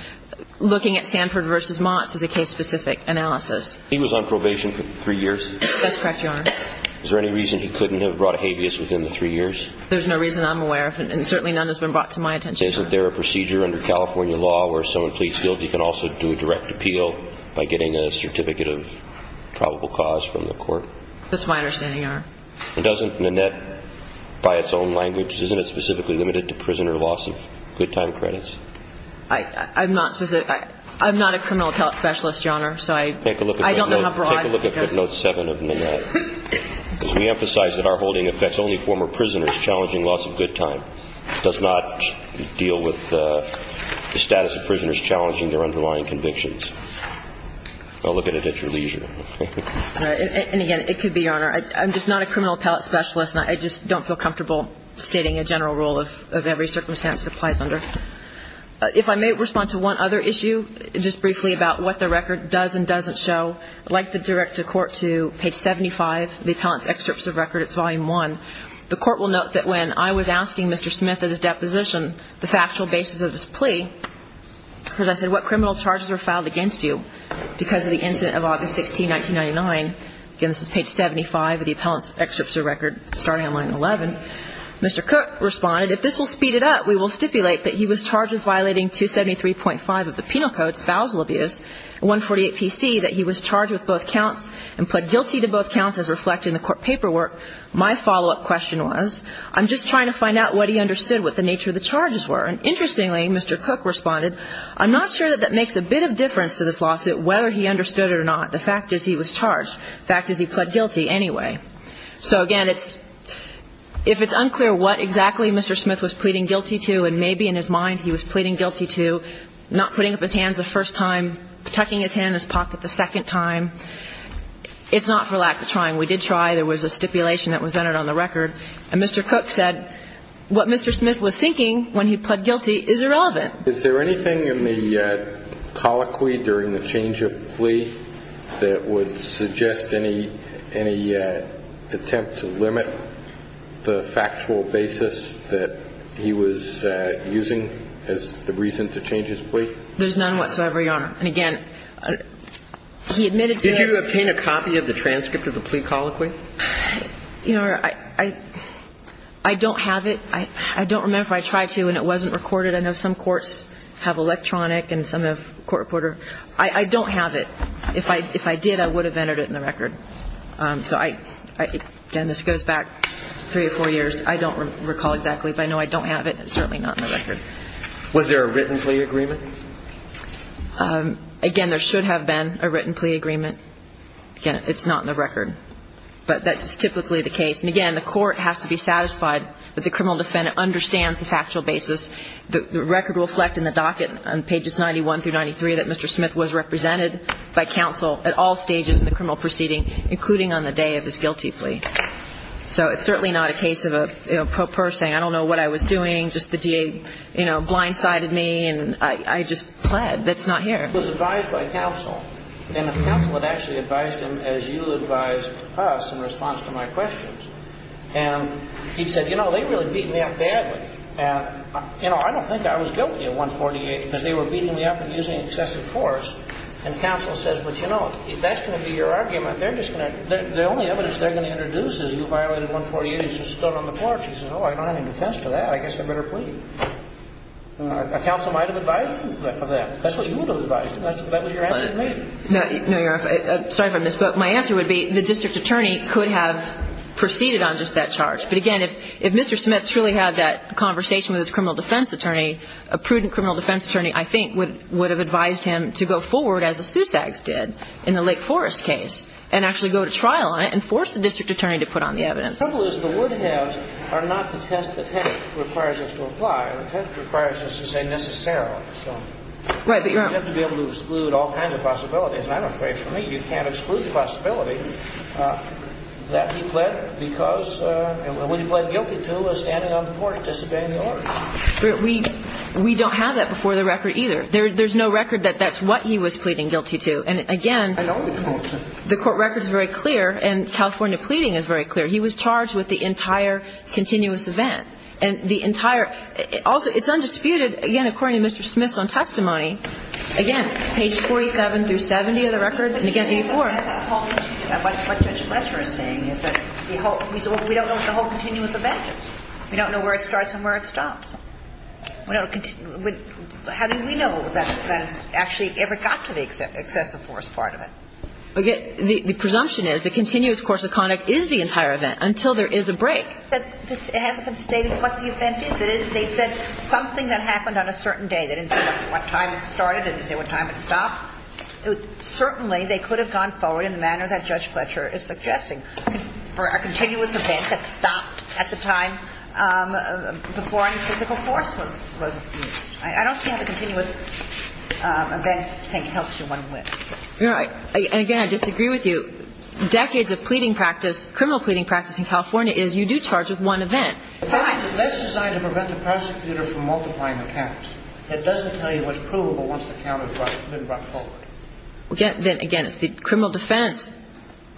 looking at Sanford versus Motts is a case-specific analysis. He was on probation for three years? That's correct, Your Honor. Is there any reason he couldn't have brought a habeas within the three years? There's no reason I'm aware of, and certainly none has been brought to my attention. Is there a procedure under California law where someone pleads guilty can also do a direct appeal by getting a certificate of probable cause from the court? That's my understanding, Your Honor. And doesn't Nonet, by its own language, isn't it specifically limited to prisoner loss of good time credits? I'm not specific. I'm not a criminal appellate specialist, Your Honor, so I don't know how broad it goes. Take a look at note seven of Nonet. We emphasize that our holding affects only former prisoners challenging loss of good time. It does not deal with the status of prisoners challenging their underlying convictions. Look at it at your leisure. And, again, it could be, Your Honor. I'm just not a criminal appellate specialist, and I just don't feel comfortable stating a general rule of every circumstance it applies under. If I may respond to one other issue just briefly about what the record does and doesn't show. I'd like to direct the Court to page 75, the appellant's excerpts of record. It's volume one. The Court will note that when I was asking Mr. Smith at his deposition the factual basis of this plea, as I said, what criminal charges were filed against you because of the incident of August 16, 1999. Again, this is page 75 of the appellant's excerpts of record starting on line 11. Mr. Cook responded, if this will speed it up, we will stipulate that he was charged with violating 273.5 of the Penal Code, spousal abuse, and 148PC, that he was charged with both counts and pled guilty to both counts as reflected in the Court paperwork. My follow-up question was, I'm just trying to find out what he understood, what the nature of the charges were. And interestingly, Mr. Cook responded, I'm not sure that that makes a bit of difference to this lawsuit whether he understood it or not. The fact is he was charged. The fact is he pled guilty anyway. So again, it's – if it's unclear what exactly Mr. Smith was pleading guilty to and maybe in his mind he was pleading guilty to, not putting up his hands the first time, tucking his hand in his pocket the second time, it's not for lack of trying. We did try. There was a stipulation that was entered on the record. And Mr. Cook said what Mr. Smith was thinking when he pled guilty is irrelevant. Is there anything in the colloquy during the change of plea that would suggest any attempt to limit the factual basis that he was using as the reason to change his plea? There's none whatsoever, Your Honor. And again, he admitted to it. Did you obtain a copy of the transcript of the plea colloquy? Your Honor, I don't have it. I don't remember if I tried to and it wasn't recorded. I know some courts have electronic and some have court reporter. I don't have it. If I did, I would have entered it in the record. So I – again, this goes back three or four years. I don't recall exactly, but I know I don't have it. It's certainly not in the record. Was there a written plea agreement? Again, there should have been a written plea agreement. Again, it's not in the record. But that's typically the case. And, again, the court has to be satisfied that the criminal defendant understands the factual basis. The record will reflect in the docket on pages 91 through 93 that Mr. Smith was represented by counsel at all stages in the criminal proceeding, including on the day of his guilty plea. So it's certainly not a case of a pro per saying I don't know what I was doing, just the DA, you know, blindsided me and I just pled. That's not here. He was advised by counsel. And the counsel had actually advised him as you advised us in response to my questions. And he said, you know, they really beat me up badly. And, you know, I don't think I was guilty of 148 because they were beating me up and using excessive force. And counsel says, well, you know, that's going to be your argument. They're just going to – the only evidence they're going to introduce is you violated 148. It's just stood on the porch. He says, oh, I don't have any defense to that. I guess I better plead. A counsel might have advised him of that. That's what you would have advised him. That was your answer to me. No, Your Honor. Sorry if I misspoke. My answer would be the district attorney could have proceeded on just that charge. But, again, if Mr. Smith truly had that conversation with his criminal defense attorney, a prudent criminal defense attorney I think would have advised him to go forward as the Sussex did in the Lake Forest case and actually go to trial on it and force the district attorney to put on the evidence. The trouble is the Woodhouse are not to test the test that requires us to apply. The test requires us to say necessarily. So you have to be able to exclude all kinds of possibilities. And I'm afraid for me you can't exclude the possibility that he pled because when he pled guilty to, was standing on the porch disobeying the order. We don't have that before the record either. There's no record that that's what he was pleading guilty to. And, again, the court record is very clear and California pleading is very clear. He was charged with the entire continuous event. And the entire – also, it's undisputed, again, according to Mr. Smith's own testimony, again, page 47 through 70 of the record, and, again, 84. What Judge Fletcher is saying is that the whole – we don't know what the whole continuous event is. We don't know where it starts and where it stops. How do we know that actually ever got to the excessive force part of it? The presumption is the continuous course of conduct is the entire event until there is a break. But it hasn't been stated what the event is. They said something that happened on a certain day. They didn't say what time it started. They didn't say what time it stopped. Certainly, they could have gone forward in the manner that Judge Fletcher is suggesting for a continuous event that stopped at the time before any physical force was used. I don't see how the continuous event can help you one way. You're right. And, again, I disagree with you. Decades of pleading practice – criminal pleading practice in California is you do charge with one event. Let's decide to prevent the prosecutor from multiplying the counts. It doesn't tell you what's provable once the count has been brought forward. Again, it's the criminal defense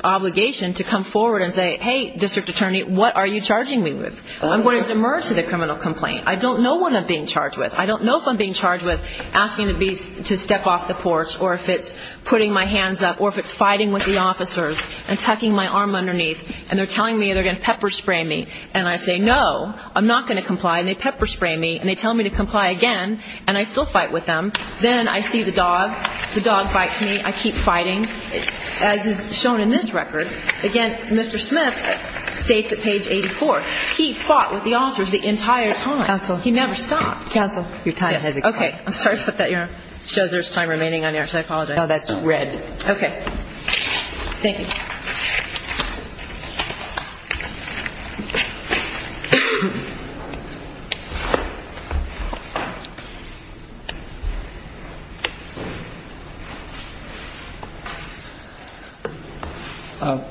obligation to come forward and say, hey, District Attorney, what are you charging me with? I'm going to submerge to the criminal complaint. I don't know what I'm being charged with. I don't know if I'm being charged with asking to step off the porch or if it's putting my hands up or if it's fighting with the officers and tucking my arm underneath and they're telling me they're going to pepper spray me. And I say, no, I'm not going to comply, and they pepper spray me, and they tell me to comply again, and I still fight with them. Then I see the dog. The dog fights me. I keep fighting. As is shown in this record, again, Mr. Smith states at page 84, he fought with the officers the entire time. Counsel. Your time has expired. Okay. I'm sorry to put that here. It shows there's time remaining on yours. I apologize. No, that's red. Okay. Thank you.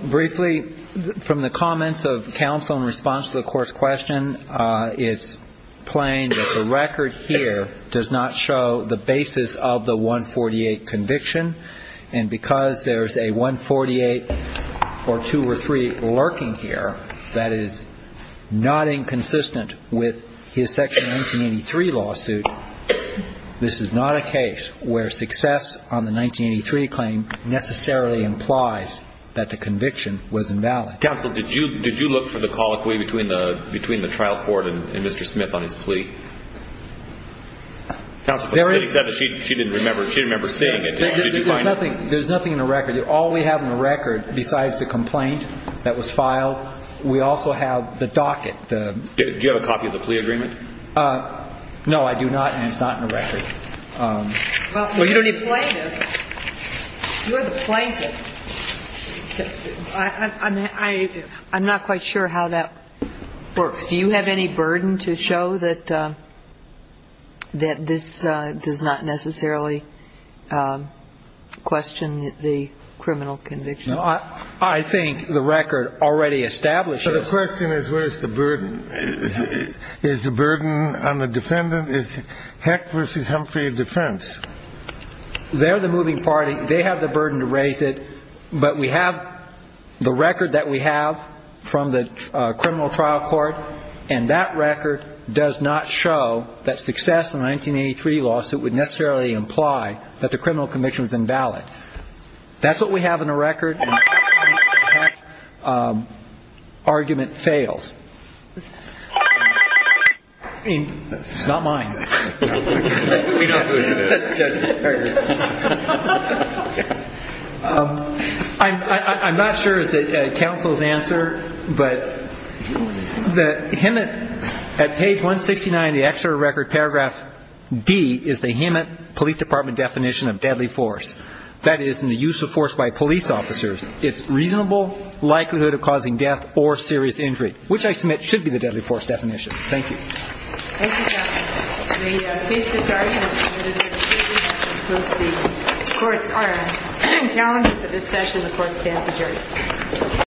Briefly, from the comments of counsel in response to the court's question, it's plain and simple that the record here does not show the basis of the 148 conviction, and because there's a 148 or two or three lurking here that is not inconsistent with his section 1983 lawsuit, this is not a case where success on the 1983 claim necessarily implies that the conviction was invalid. Counsel, did you look for the colloquy between the trial court and Mr. Smith on his plea? Counsel, she said she didn't remember seeing it. There's nothing in the record. All we have in the record besides the complaint that was filed, we also have the docket. Do you have a copy of the plea agreement? No, I do not, and it's not in the record. Well, you don't need to. You're the plaintiff. I'm not quite sure how that works. Do you have any burden to show that this does not necessarily question the criminal conviction? I think the record already establishes. So the question is where is the burden? Is the burden on the defendant? Is Heck v. Humphrey a defense? They're the moving party. They have the burden to raise it. But we have the record that we have from the criminal trial court, and that record does not show that success in the 1983 lawsuit would necessarily imply that the criminal conviction was invalid. That's what we have in the record. I'm not sure is that counsel's answer, but the Hemet, at page 169 in the extra record, paragraph D is the Hemet Police Department definition of deadly force. That is, in the use of force by a police officer, it's reasonable likelihood of causing death or serious injury, which I submit should be the deadly force definition. Thank you. Thank you, Justice. The case is started. It's submitted to the jury. The courts are on a calendar for this session. The court stands adjourned.